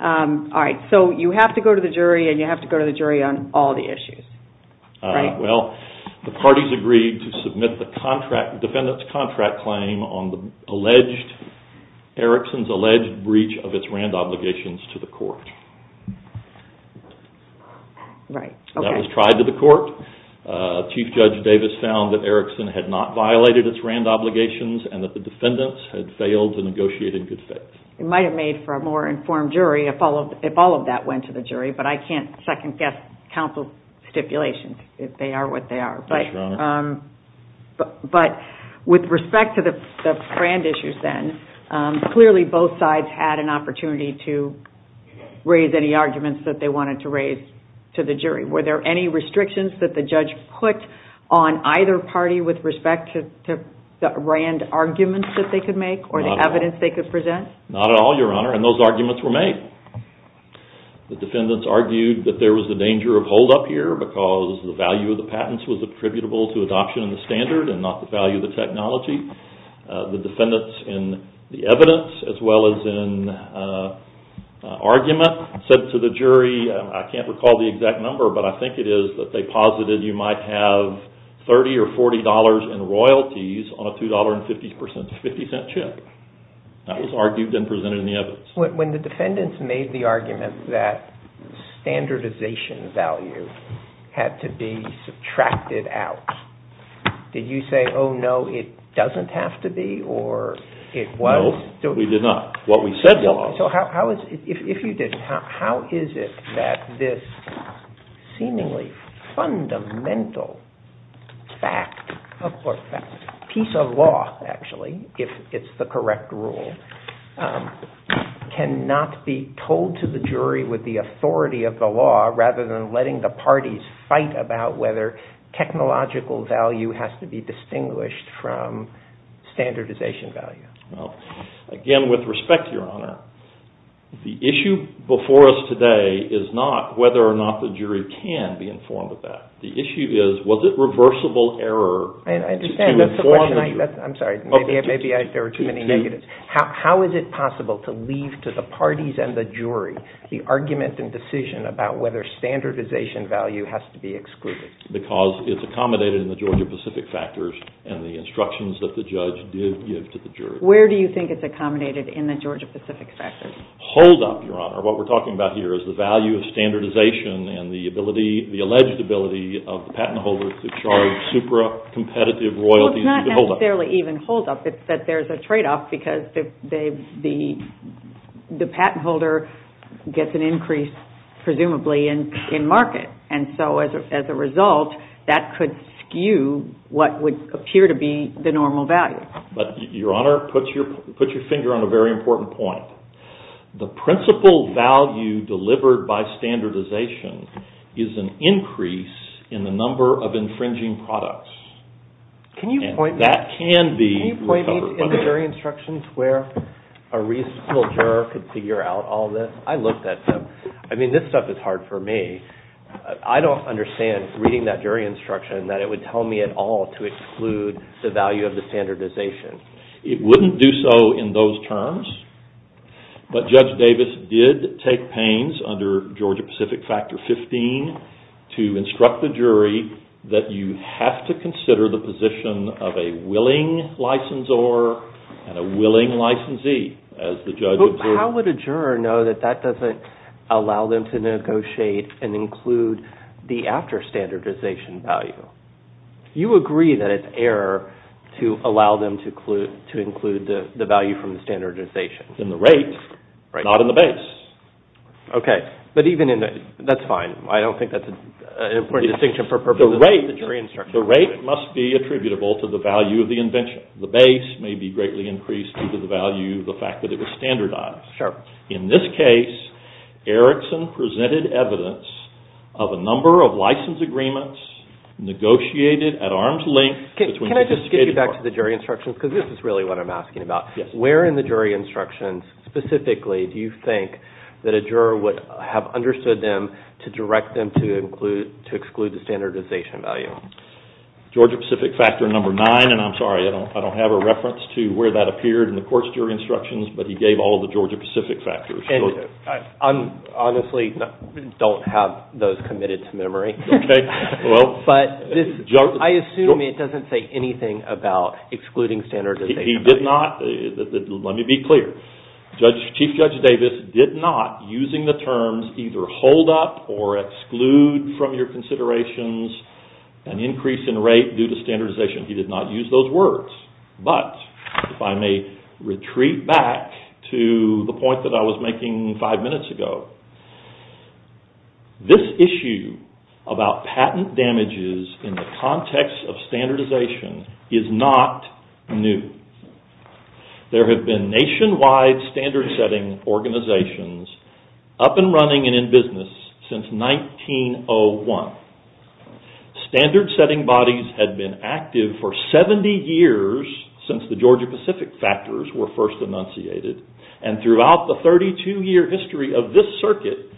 All right, so you have to go to the jury and you have to go to the jury on all the issues. All right, well, the parties agreed to submit the defendant's contract claim on the alleged, Erickson's alleged breach of its Rand obligations to the court. Right, okay. That was tried to the court. Chief Judge Davis found that Erickson had not violated its Rand obligations and that the defendants had failed to negotiate in good faith. It might have made for a more informed jury if all of that went to the jury, but I can't second-guess counsel's stipulations, if they are what they are. That's right. But with respect to the Rand issues then, clearly both sides had an opportunity to raise any arguments that they wanted to raise to the jury. Were there any restrictions that the judge put on either party with respect to the Rand arguments that they could make or the evidence they could present? Not at all, Your Honor, and those arguments were made. The defendants argued that there was the danger of hold-up here because the value of the patents was attributable to adoption of the standard and not the value of the technology. The defendants in the evidence as well as in argument said to the jury, I can't recall the exact number, but I think it is, that they posited you might have $30 or $40 in royalties on a $2.50 chip. That was argued and presented in the evidence. When the defendants made the argument that standardization value had to be subtracted out, did you say, oh, no, it doesn't have to be or it was? No, we did not. What we said was. If you did, how is it that this seemingly fundamental fact or piece of law, actually, if it's the correct rule, cannot be told to the jury with the authority of the law rather than letting the parties fight about whether technological value has to be distinguished from standardization value? Again, with respect, Your Honor, the issue before us today is not whether or not the jury can be informed of that. The issue is was it reversible error to inform the jury. I'm sorry. Maybe there were too many negatives. How is it possible to leave to the parties and the jury the argument and decision about whether standardization value has to be excluded? Because it's accommodated in the Georgia-Pacific factors and the instructions that the judge did give to the jury. Where do you think it's accommodated in the Georgia-Pacific factors? Hold-up, Your Honor. What we're talking about here is the value of standardization and the alleged ability of the patent holder to charge supra-competitive royalties. Well, it's not necessarily even hold-up. It's that there's a trade-off because the patent holder gets an increase, presumably, in market. And so, as a result, that could skew what would appear to be the normal value. But, Your Honor, put your finger on a very important point. The principal value delivered by standardization is an increase in the number of infringing products. Can you point me to jury instructions where a reasonable juror could figure out all this? I looked at them. I mean, this stuff is hard for me. I don't understand reading that jury instruction that it would tell me at all to exclude the value of the standardization. It wouldn't do so in those terms. But Judge Davis did take pains under Georgia-Pacific factor 15 to instruct the jury that you have to consider the position of a willing licensor and a willing licensee as the judge observed. But how would a juror know that that doesn't allow them to negotiate and include the after standardization value? You agree that it's error to allow them to include the value from the standardization. In the rate, not in the base. Okay, but even in the... That's fine. I don't think that's an important distinction for purposes of the jury instruction. The rate must be attributable to the value of the invention. The base may be greatly increased due to the value of the fact that it was standardized. In this case, Erickson presented evidence of a number of license agreements negotiated at arm's length... Can I just get you back to the jury instruction? Because this is really what I'm asking about. Where in the jury instruction specifically do you think that a juror would have understood them to direct them to exclude the standardization value? Georgia-Pacific factor number nine. And I'm sorry, I don't have a reference to where that appeared in the court's jury instructions. But he gave all the Georgia-Pacific factors. I honestly don't have those committed to memory. Okay. But I assume it doesn't say anything about excluding standardization. He did not. Let me be clear. Chief Judge Davis did not, using the terms, either hold up or exclude from your considerations an increase in rate due to standardization. He did not use those words. But if I may retreat back to the point that I was making five minutes ago, this issue about patent damages in the context of standardization is not new. There have been nationwide standard-setting organizations up and running and in business since 1901. Standard-setting bodies have been active for 70 years since the Georgia-Pacific factors were first enunciated. And throughout the 32-year history of this circuit,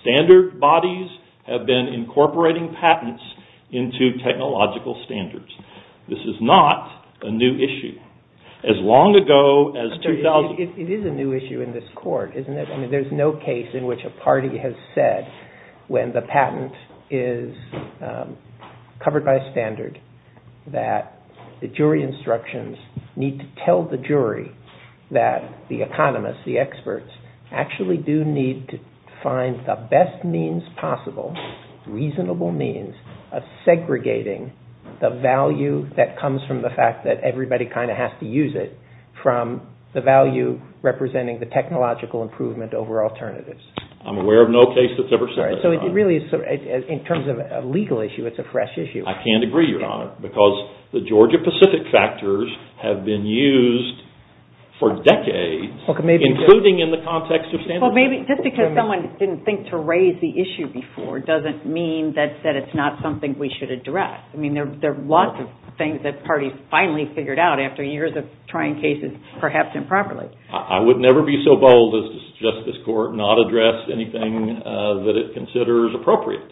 standard bodies have been incorporating patents into technological standards. This is not a new issue. As long ago as 2000... It is a new issue in this court, isn't it? I mean, there's no case in which a party has said when the patent is covered by a standard that the jury instructions need to tell the jury that the economists, the experts, actually do need to find the best means possible, reasonable means, of segregating the value that comes from the fact that everybody kind of has to use it from the value representing the technological improvement over alternatives. I'm aware of no case that's ever said that, Your Honor. So it really is... In terms of a legal issue, it's a fresh issue. I can't agree, Your Honor, because the Georgia-Pacific factors have been used for decades, including in the context of standard... Well, maybe just because someone didn't think to raise the issue before doesn't mean that it's not something we should address. I mean, there are lots of things that parties finally figured out after years of trying cases, perhaps improperly. I would never be so bold as to suggest this court not address anything that it considers appropriate.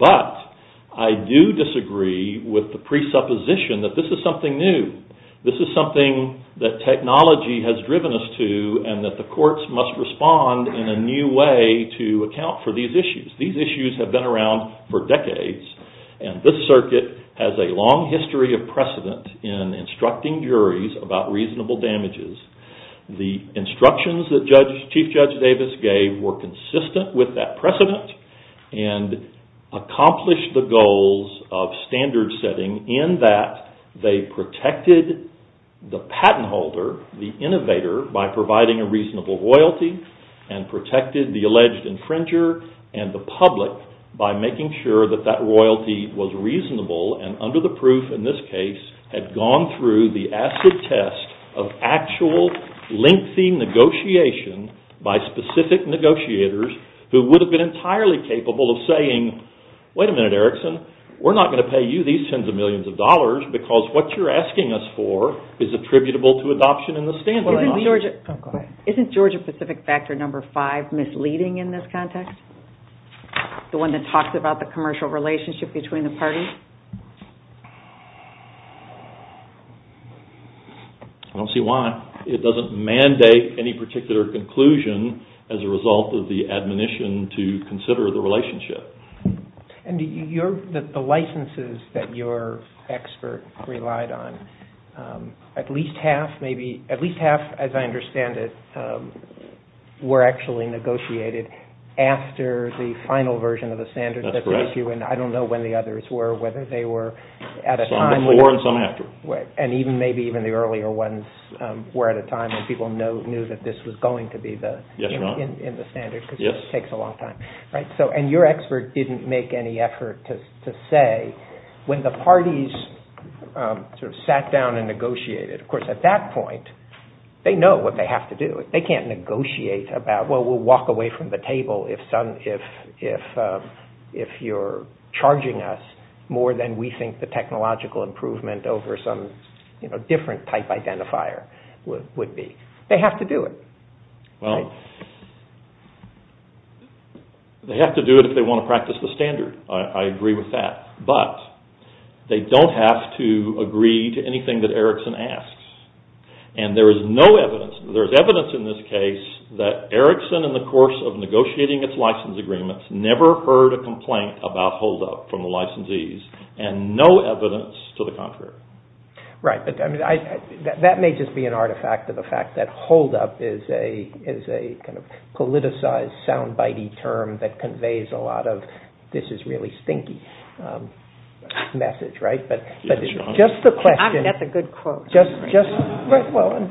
But I do disagree with the presupposition that this is something new. This is something that technology has driven us to and that the courts must respond in a new way to account for these issues. These issues have been around for decades, and this circuit has a long history of precedent in instructing juries about reasonable damages. The instructions that Chief Judge Davis gave were consistent with that precedent and accomplished the goals of standard setting in that they protected the patent holder, the innovator, by providing a reasonable royalty and protected the alleged infringer and the public by making sure that that royalty was reasonable and under the proof in this case had gone through the acid test of actual lengthy negotiation by specific negotiators who would have been entirely capable of saying, wait a minute, Erickson, we're not going to pay you these tens of millions of dollars because what you're asking us for is attributable to adoption in the standard law. Isn't Georgia Pacific Factor No. 5 misleading in this context? The one that talks about the commercial relationship between the parties? I don't see why. It doesn't mandate any particular conclusion as a result of the admonition to consider the relationship. The licenses that your expert relied on, at least half, as I understand it, were actually negotiated after the final version of the standard. I don't know when the others were, whether they were at a time... Some before and some after. Maybe even the earlier ones were at a time when people knew that this was going to be in the standard because it takes a long time. Your expert didn't make any effort to say when the parties sat down and negotiated. Of course, at that point, they know what they have to do. They can't negotiate about, well, we'll walk away from the table if you're charging us more than we think the technological improvement over some different type identifier would be. They have to do it. They have to do it if they want to practice the standard. I agree with that. But they don't have to agree to anything that Erickson asks. There's evidence in this case that Erickson, in the course of negotiating its license agreements, never heard a complaint about holdup from the licensees and no evidence to the contrary. Right. That may just be an artifact of the fact that holdup is a politicized, soundbite-y term that conveys a lot of this is really stinky message. That's a good quote.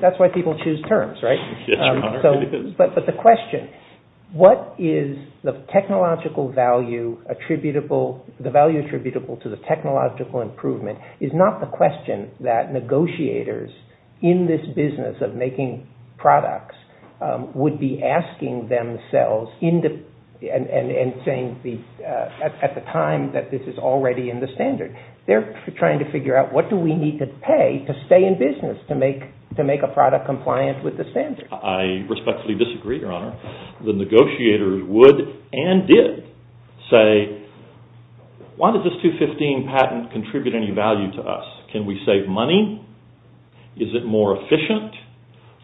That's why people choose terms. But the question, what is the technological value attributable to the technological improvement is not the question that negotiators in this business of making products would be asking themselves and saying at the time that this is already in the standard. They're trying to figure out what do we need to pay to stay in business to make a product compliant with the standard. I respectfully disagree, Your Honor. The negotiators would and did say, why does this 215 patent contribute any value to us? Can we save money? Is it more efficient?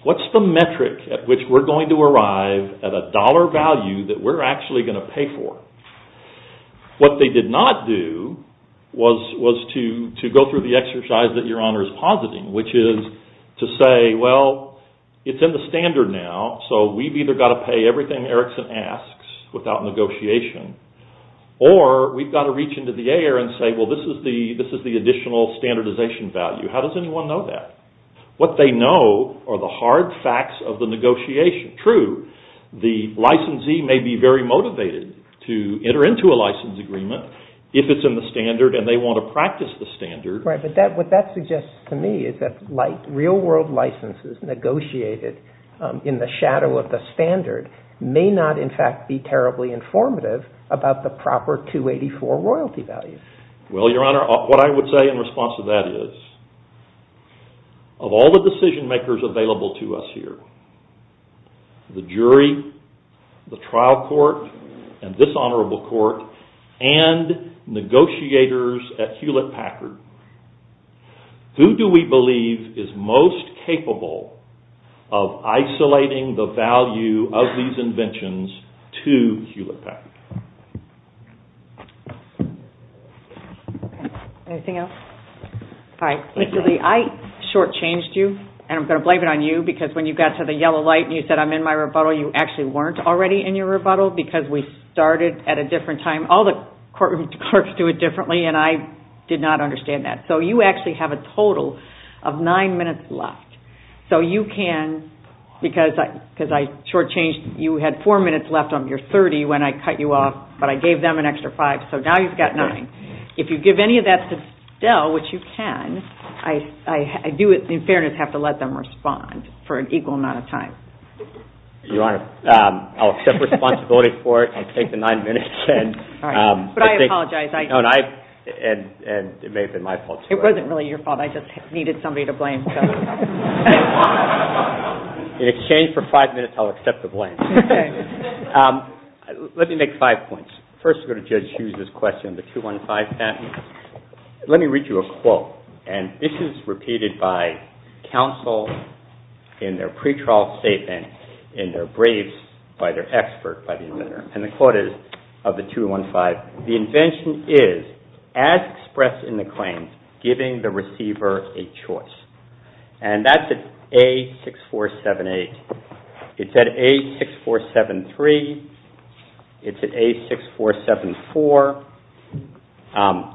What's the metric at which we're going to arrive at a dollar value that we're actually going to pay for? What they did not do was to go through the exercise that Your Honor is positing, which is to say, well, it's in the standard now, so we've either got to pay everything Erickson asks without negotiation or we've got to reach into the air and say, well, this is the additional standardization value. How does anyone know that? What they know are the hard facts of the negotiation. True, the licensee may be very motivated to enter into a license agreement if it's in the standard and they want to practice the standard. Right, but what that suggests to me is that real world licenses negotiated in the shadow of the standard may not, in fact, be terribly informative about the proper 284 royalty value. Well, Your Honor, what I would say in response to that is, of all the decision makers available to us here, the jury, the trial court, and this honorable court, and negotiators at Hewlett-Packard, who do we believe is most capable of isolating the value of these inventions to Hewlett-Packard? Anything else? All right. I shortchanged you, and I'm going to blame it on you because when you got to the yellow light and you said, I'm in my rebuttal, you actually weren't already in your rebuttal because we started at a different time. All the courtroom courts do it differently, and I did not understand that. So you actually have a total of nine minutes left. So you can, because I shortchanged, you had four minutes left on your 30 when I cut you off, but I gave them an extra five, so now you've got nine. If you give any of that to Stell, which you can, I do, in fairness, you just have to let them respond for an equal amount of time. You're right. I'll accept responsibility for it and take the nine minutes. But I apologize. It may have been my fault, too. It wasn't really your fault. I just needed somebody to blame. In exchange for five minutes, I'll accept the blame. Let me make five points. First, I'm going to judge Hughes' question, the 215 patent. Let me read you a quote, and this is repeated by counsel in their pretrial statement in their briefs by their expert, and the quote is, of the 215, the invention is, as expressed in the claim, giving the receiver a choice. And that's at A6478. It's at A6473. It's at A6474.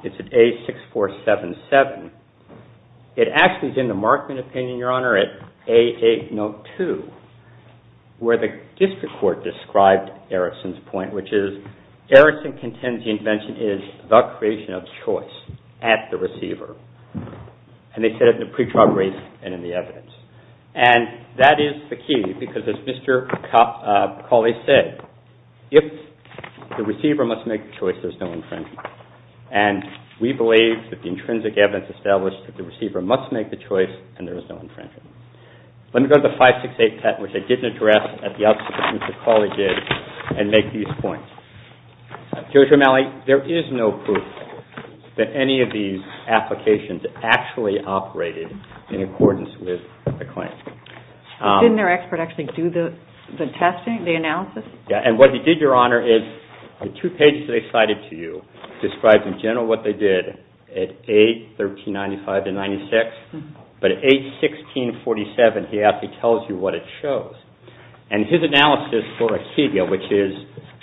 It's at A6477. It actually is in the Markman opinion, Your Honor, at A802, where the district court described Erickson's point, which is, Erickson contends the invention is the creation of choice at the receiver. And they said it in the pretrial brief and in the evidence. And that is the key because as Mr. Colley said, if the receiver must make a choice, there's no invention. And we believe that the intrinsic evidence established that the receiver must make the choice and there is no invention. Let me go to the 568 patent, which I did address at the outset, which Mr. Colley did, and make these points. Judge O'Malley, there is no proof that any of these applications actually operated in accordance with the claim. Didn't their expert actually do the testing, the analysis? Yeah, and what he did, Your Honor, is on two pages they cited to you, described in general what they did at age 1395 to 96. But at age 1647, he actually tells you what it shows. And his analysis for Akedia, which is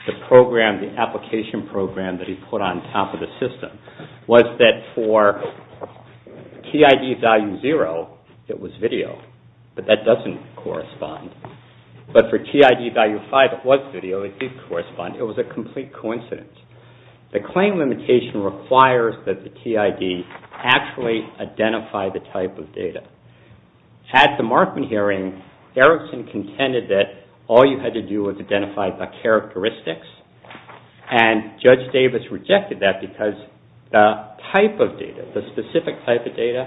the program, the application program that he put on top of the system, was that for TID value 0, it was video. But that doesn't correspond. But for TID value 5, it was video, it did correspond. It was a complete coincidence. The claim limitation requires that the TID actually identify the type of data. At the Markham hearing, Erickson contended that all you had to do was identify the characteristics. And Judge Davis rejected that because the type of data, the specific type of data,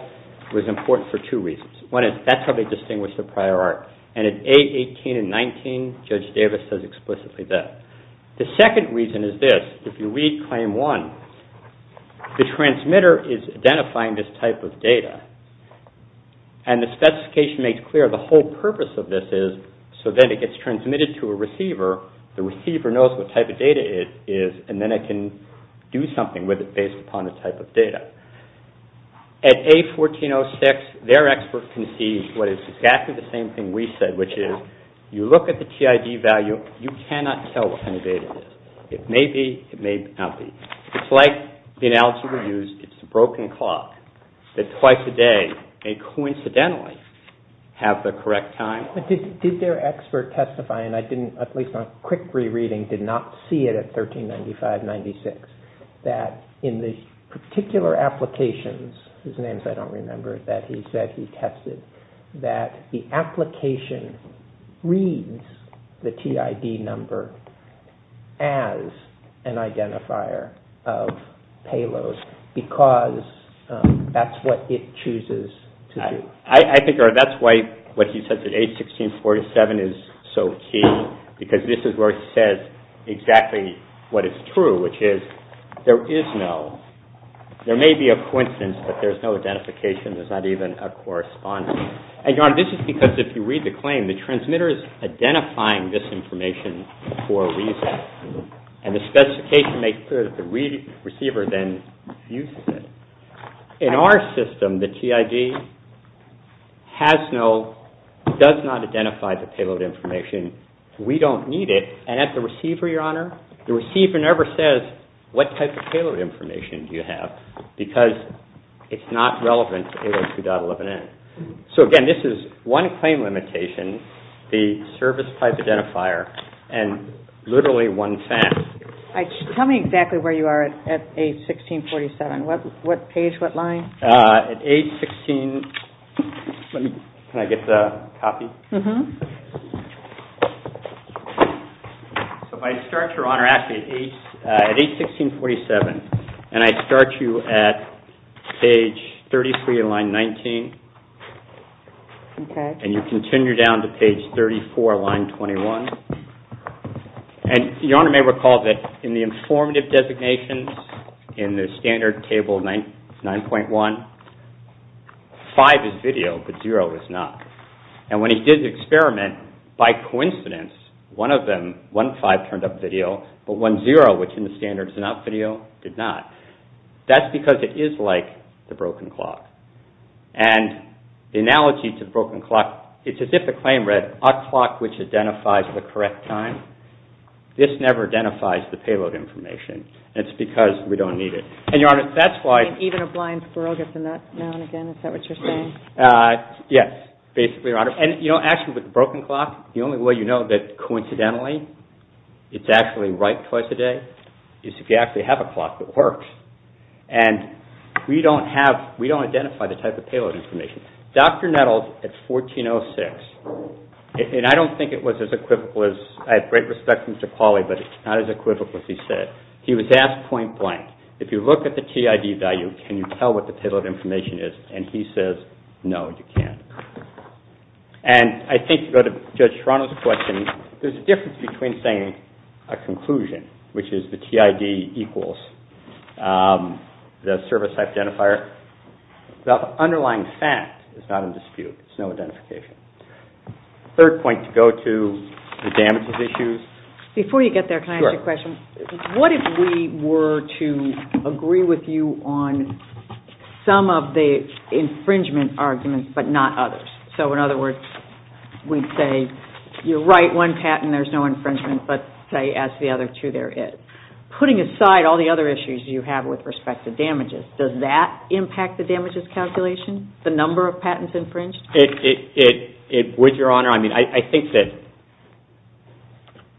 was important for two reasons. One is that's how they distinguished the prior art. And at age 18 and 19, Judge Davis says explicitly that. The second reason is this. If you read claim one, the transmitter is identifying this type of data. And the specification makes clear the whole purpose of this is so that it gets transmitted to a receiver. The receiver knows what type of data it is, and then it can do something with it based upon the type of data. At age 14-06, their expert conceived what is exactly the same thing we said, which is you look at the TID value, you cannot tell what kind of data it is. It may be, it may not be. It's like in algebra used, it's a broken clock that twice a day may coincidentally have the correct time. Did their expert testify, and I didn't, at least my quick re-reading did not see it at 1395-96, that in the particular applications, whose names I don't remember, that he said he tested, that the application reads the TID number as an identifier of payloads because that's what it chooses to do. I think that's why what he says at age 16-47 is so key, because this is where it says exactly what is true, which is there is no, there may be a coincidence that there's no identification. There's not even a correspondence. And John, this is because if you read the claim, the transmitter is identifying this information for a reason. And the specification makes clear that the receiver then refuses it. In our system, the TID has no, does not identify the payload information. We don't need it. And at the receiver, Your Honor, the receiver never says what type of payload information do you have because it's not relevant to A12.11n. So again, this is one claim limitation. The service type identifier and literally one fact. Tell me exactly where you are at age 16-47. What page, what line? At age 16, can I get the copy? If I start, Your Honor, ask me at age 16-47 and I start you at page 33 in line 19 and you continue down to page 34, line 21. And Your Honor may recall that in the informative designations in the standard table 9.1, five is video, but zero is not. And when he did the experiment, by coincidence, one of them, one five turned up video, but one zero, which in the standard is not video, did not. That's because it is like the broken clock. And the analogy to broken clock, it's as if the claim read a clock which identifies the correct time. This never identifies the payload information. It's because we don't need it. And Your Honor, that's why... Even a blind squirrel gets a nut now and again. Is that what you're saying? Yes. Basically, Your Honor. And you know, actually with the broken clock, the only way you know that coincidentally it's actually right twice a day is if you actually have a clock that works. And we don't have, we don't identify the type of payload information. Dr. Nettles at 1406, and I don't think it was as equivalent, I have great respect for Mr. Pauly, but it's not as equivalent as he said. He was asked point blank, if you look at the TID value, can you tell what the payload information is? And he says, no, you can't. And I think you go to Judge Toronto's question. There's a difference between saying a conclusion, which is the TID equals the service identifier. The underlying fact is not in dispute. It's no identification. Third point to go to, the damages issues. Before you get there, can I ask you a question? Sure. What if we were to agree with you on some of the infringement arguments, but not others? So in other words, we'd say, you're right, one patent, there's no infringement, but say, as the other two there is. Putting aside all the other issues you have with respect to damages, does that impact the damages calculation? The number of patents infringed? It would, Your Honor. I mean, I think that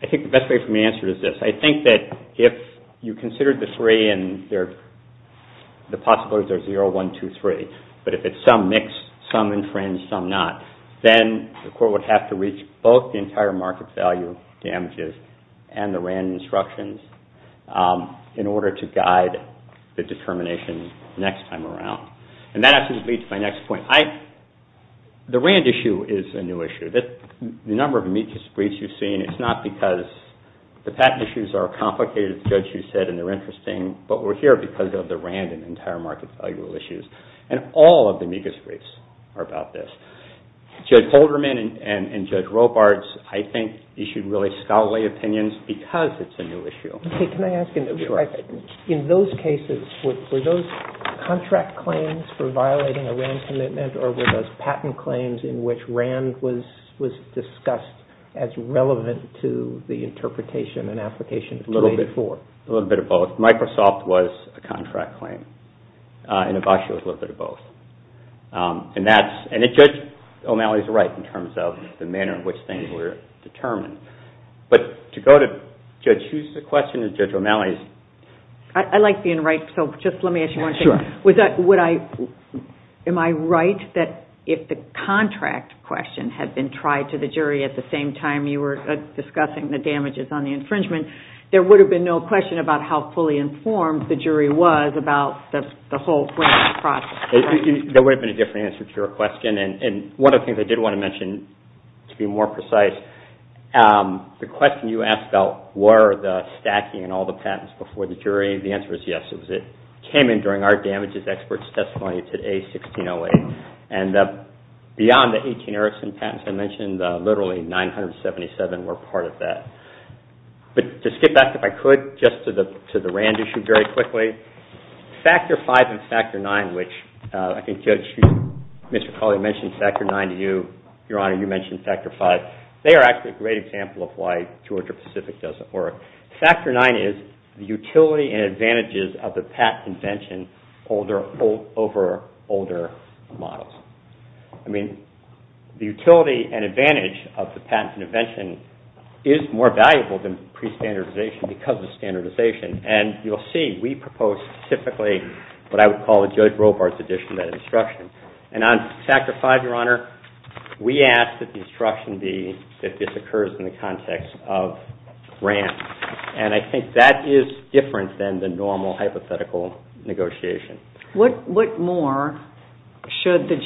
I think the best way for me to answer is this. I think that if you consider the three and the possibilities are 0, 1, 2, 3, but if it's some mixed, some infringed, some not, then the court would have to reach both the entire market value damages and the random instructions in order to guide the determination next time around. And that actually leads to my next point. The Rand issue is a new issue. The number of amicus briefs you've seen, it's not because the patent issues are complicated, as Judge, you said, and they're interesting, but we're here because of the Rand and entire market value issues. And all of the amicus briefs are about this. Judge Holderman and Judge Robards, I think, issued really scholarly opinions because it's a new issue. Okay, can I ask you, in those cases, were those contract claims for violating a Rand commitment or were those patent claims in which Rand was discussed as relevant to the interpretation and application before? A little bit of both. Microsoft was a contract claim. And the Boshua was a little bit of both. And that's, and Judge O'Malley is right in terms of the manner in which things were determined. But to go to, Judge, who's the question is Judge O'Malley's. I like being right, so just let me ask you one thing. Sure. Would that, would I, am I right that if the contract question had been tried to the jury at the same time you were discussing the damages on the infringement, there would have been no question about how fully informed the jury was about the whole Rand process. There would have been a different answer to your question. And one of the things I did want to mention, to be more precise, the question you asked about were the stacking and all the patents before the jury. And the answer is yes. It came in during our damages experts testimony today, 1608. And beyond the 18 Erickson patents I mentioned, literally 977 were part of that. But to skip back if I could, just to the, to the Rand issue very quickly. Factor V and Factor IX, which I think Judge, Mr. Collier mentioned Factor IX to you. Your Honor, you mentioned Factor V. They are actually a great example of why Georgia Pacific doesn't work. Factor IX is the utility and advantages of the patent convention over older models. I mean, the utility and advantage of the patent convention is more valuable than prestandardization because of standardization. And you'll see we propose typically what I would call a Judge Robart's edition of that instruction. And on Factor V, Your Honor, we ask that the instruction be that this occurs in the context of Rand. And I think that is different than the normal hypothetical negotiation. What, what more should the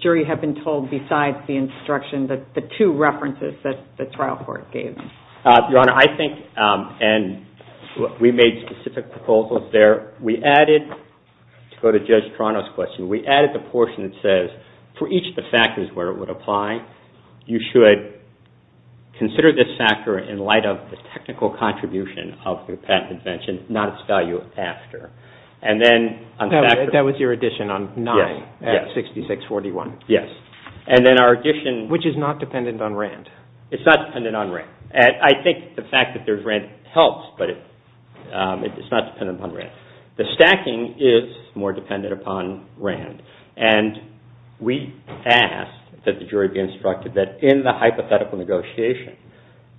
jury have been told besides the instruction that the two references that the trial court gave? Your Honor, I think and we made specific proposals there. We added, to go to Judge Toronto's question, we added the portion that says for each of the factors where it would apply, you should consider this factor in light of the technical contribution of the patent invention, not its value after. And then That was your addition on 9, at 6641. Yes. And then our addition Which is not dependent on Rand. It's not dependent on Rand. I think the fact that there's Rand helps, but it's not dependent on Rand. The stacking is more dependent upon Rand. And we ask that the jury be instructed that in the hypothetical negotiation,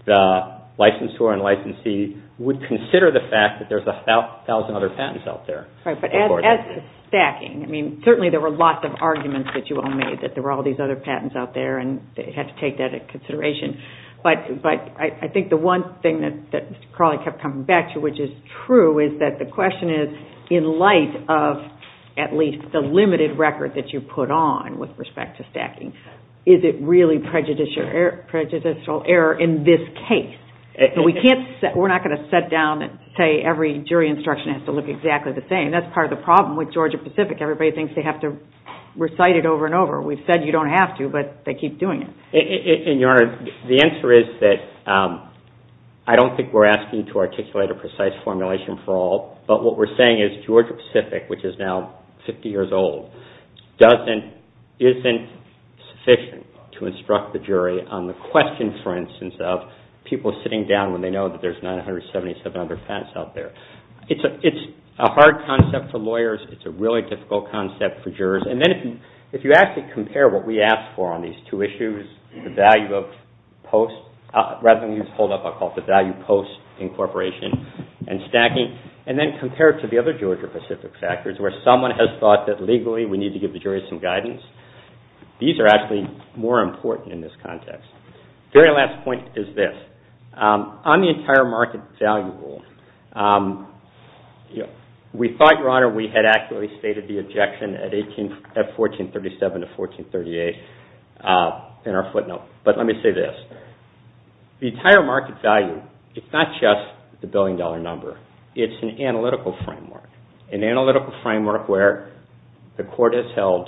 the licensor and licensee would consider the fact that there's a thousand other patents out there. Right, but as to stacking, I mean, certainly there were lots of arguments that you all made that there were all these other patents out there and they had to take that into consideration. But I think the one thing that Carly kept coming back to which is true is that the question is in light of at least the limited record that you put on with respect to stacking. Is it really prejudicial error in this case? We can't set, we're not going to set down and say every jury instruction has to look exactly the same. That's part of the problem with Georgia Pacific. Everybody thinks they have to recite it over and over. We've said you don't have to but they keep doing it. The answer is that I don't think we're asking to articulate a precise formulation for all but what we're saying is Georgia Pacific which is now 50 years old isn't sufficient to instruct the jury on the questions for instance of people sitting down when they know that there's 977 other patents out there. It's a hard concept for lawyers. It's a really difficult concept for jurors. And then if you actually compare what we ask for on these two issues, the value of post rather than use hold up I'll call it the value post incorporation and stacking and then compare it to the other Georgia Pacific factors where someone has thought that legally we need to give the jury some guidance. These are actually more important in this context. Very last point is this. On the entire market value rule we thought your honor we had actually stated the objection at 1437 to 1438 in our footnote but let me say this. The entire market value is not just the billion dollar number. It's an analytical framework. An analytical framework where the court has held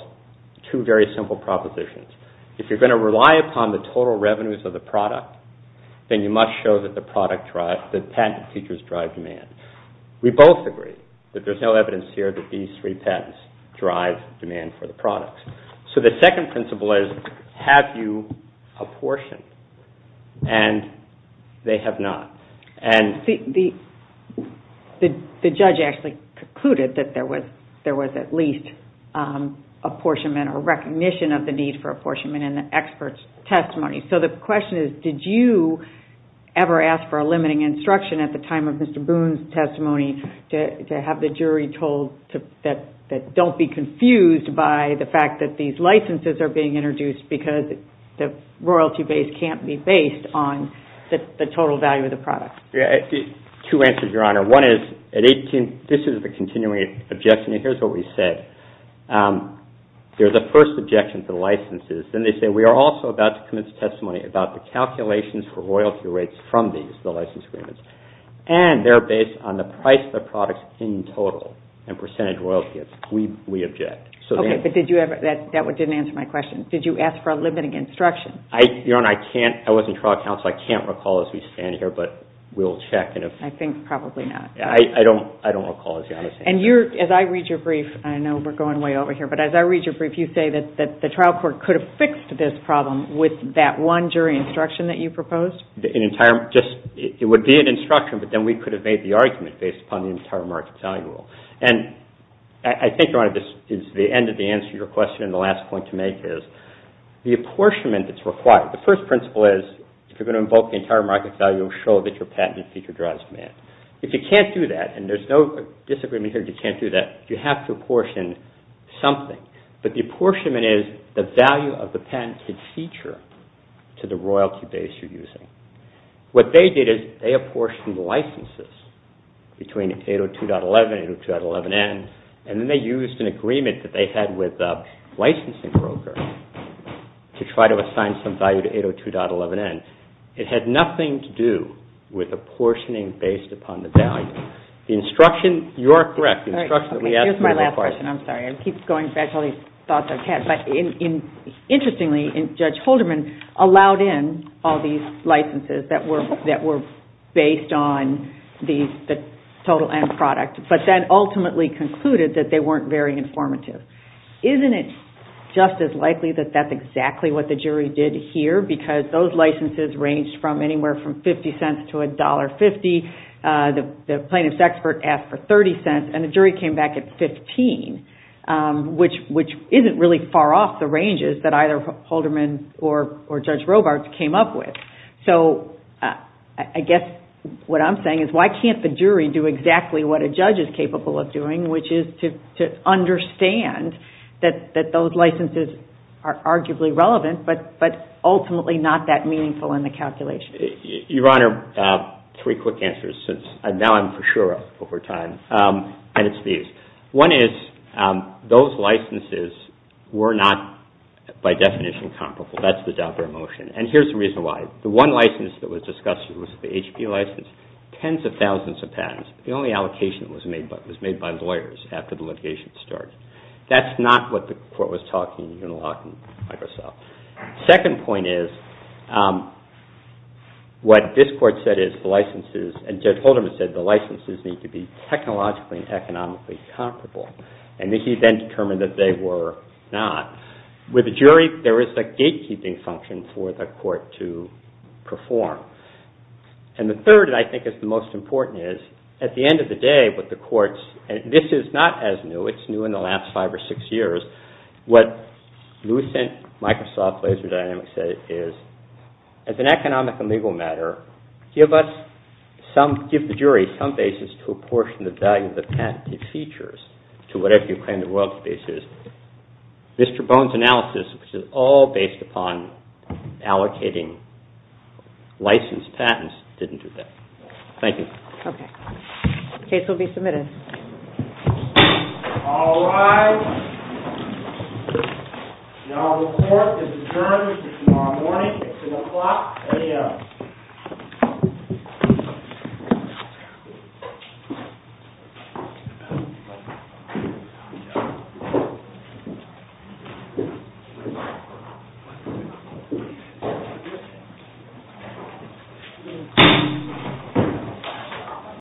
two very simple propositions. If you're going to rely upon the total revenues of the product then you must show that the patent teachers drive demand. We both agree that there's no evidence here that these three patents drive demand for the products. So the second principle is have you apportioned and they have not. The judge actually concluded that there was at least apportionment or recognition of the need for apportionment in the expert's testimony. So the question is did you ever ask for a limiting instruction at the time of Mr. Boone's testimony to have the jury told that don't be confused by the fact that these licenses are being introduced because the patent teachers have said that they're the first objection to the licenses. Then they say we are also about to commit to testimony about the calculations for royalty rates from these. And they're based on the price of the products in total and percentage royalties. We object. Did you ask for a limiting instruction? I can't recall as we stand here but we'll check. I don't recall. As I read your brief you say the trial court could have fixed this problem with that one jury instruction that you proposed? It would be an instruction but we could have made the argument based on the entire market value rule. I think the end of the answer to your question and the last point to make is the apportionment that's required. The first principle is if you're going to invoke the entire market value it will show that your patent is in place. If you can't do that you have to apportion something. The apportionment is the value of the patent to the royalty base you're using. They apportioned licenses between 802.11 and 802.11n and they used an agreement they had with the licensing broker to try to assign some value to 802.11n. It had nothing to do with apportioning based upon the value. The instruction you're correct. The instruction that we asked for the question. Interestingly Judge Holderman allowed in all these licenses that were based on the total end product but ultimately concluded they weren't very informative. Isn't it just as likely that that's exactly what the jury did here because those licenses ranged from 50 cents to $1.50. The plaintiff's expert asked for 30 cents and the jury came back at 15 which isn't really far off the ranges that either Judge Holderman or Judge Holderman were capable of doing which is to understand that those licenses are arguably relevant but ultimately not that meaningful in the calculation. Your Honor, three quick answers since now I'm for sure over time. One is those licenses were not by definition comparable. That's the motion. Here's the reason why. The one license that was discussed was the HP license. Tens of thousands of patents. The only allocation was made by lawyers after the litigation started. That's not what the court was talking about. Second point is what this court said is the licenses need to be technologically and economically comparable. He then determined that they were not. With a jury there is a gate keeping function for the court to perform. The third I think is the most important is at the end of the day with the courts, this is not as new. It's new in the last five or six years. What this said is the patent features to whatever the world case is. Mr. Bone's analysis is all based upon allocating license patents. Thank you. The case will be submitted. All rise. The court has determined the defendants defendants no comment until the court is adjourned. The court is adjourned.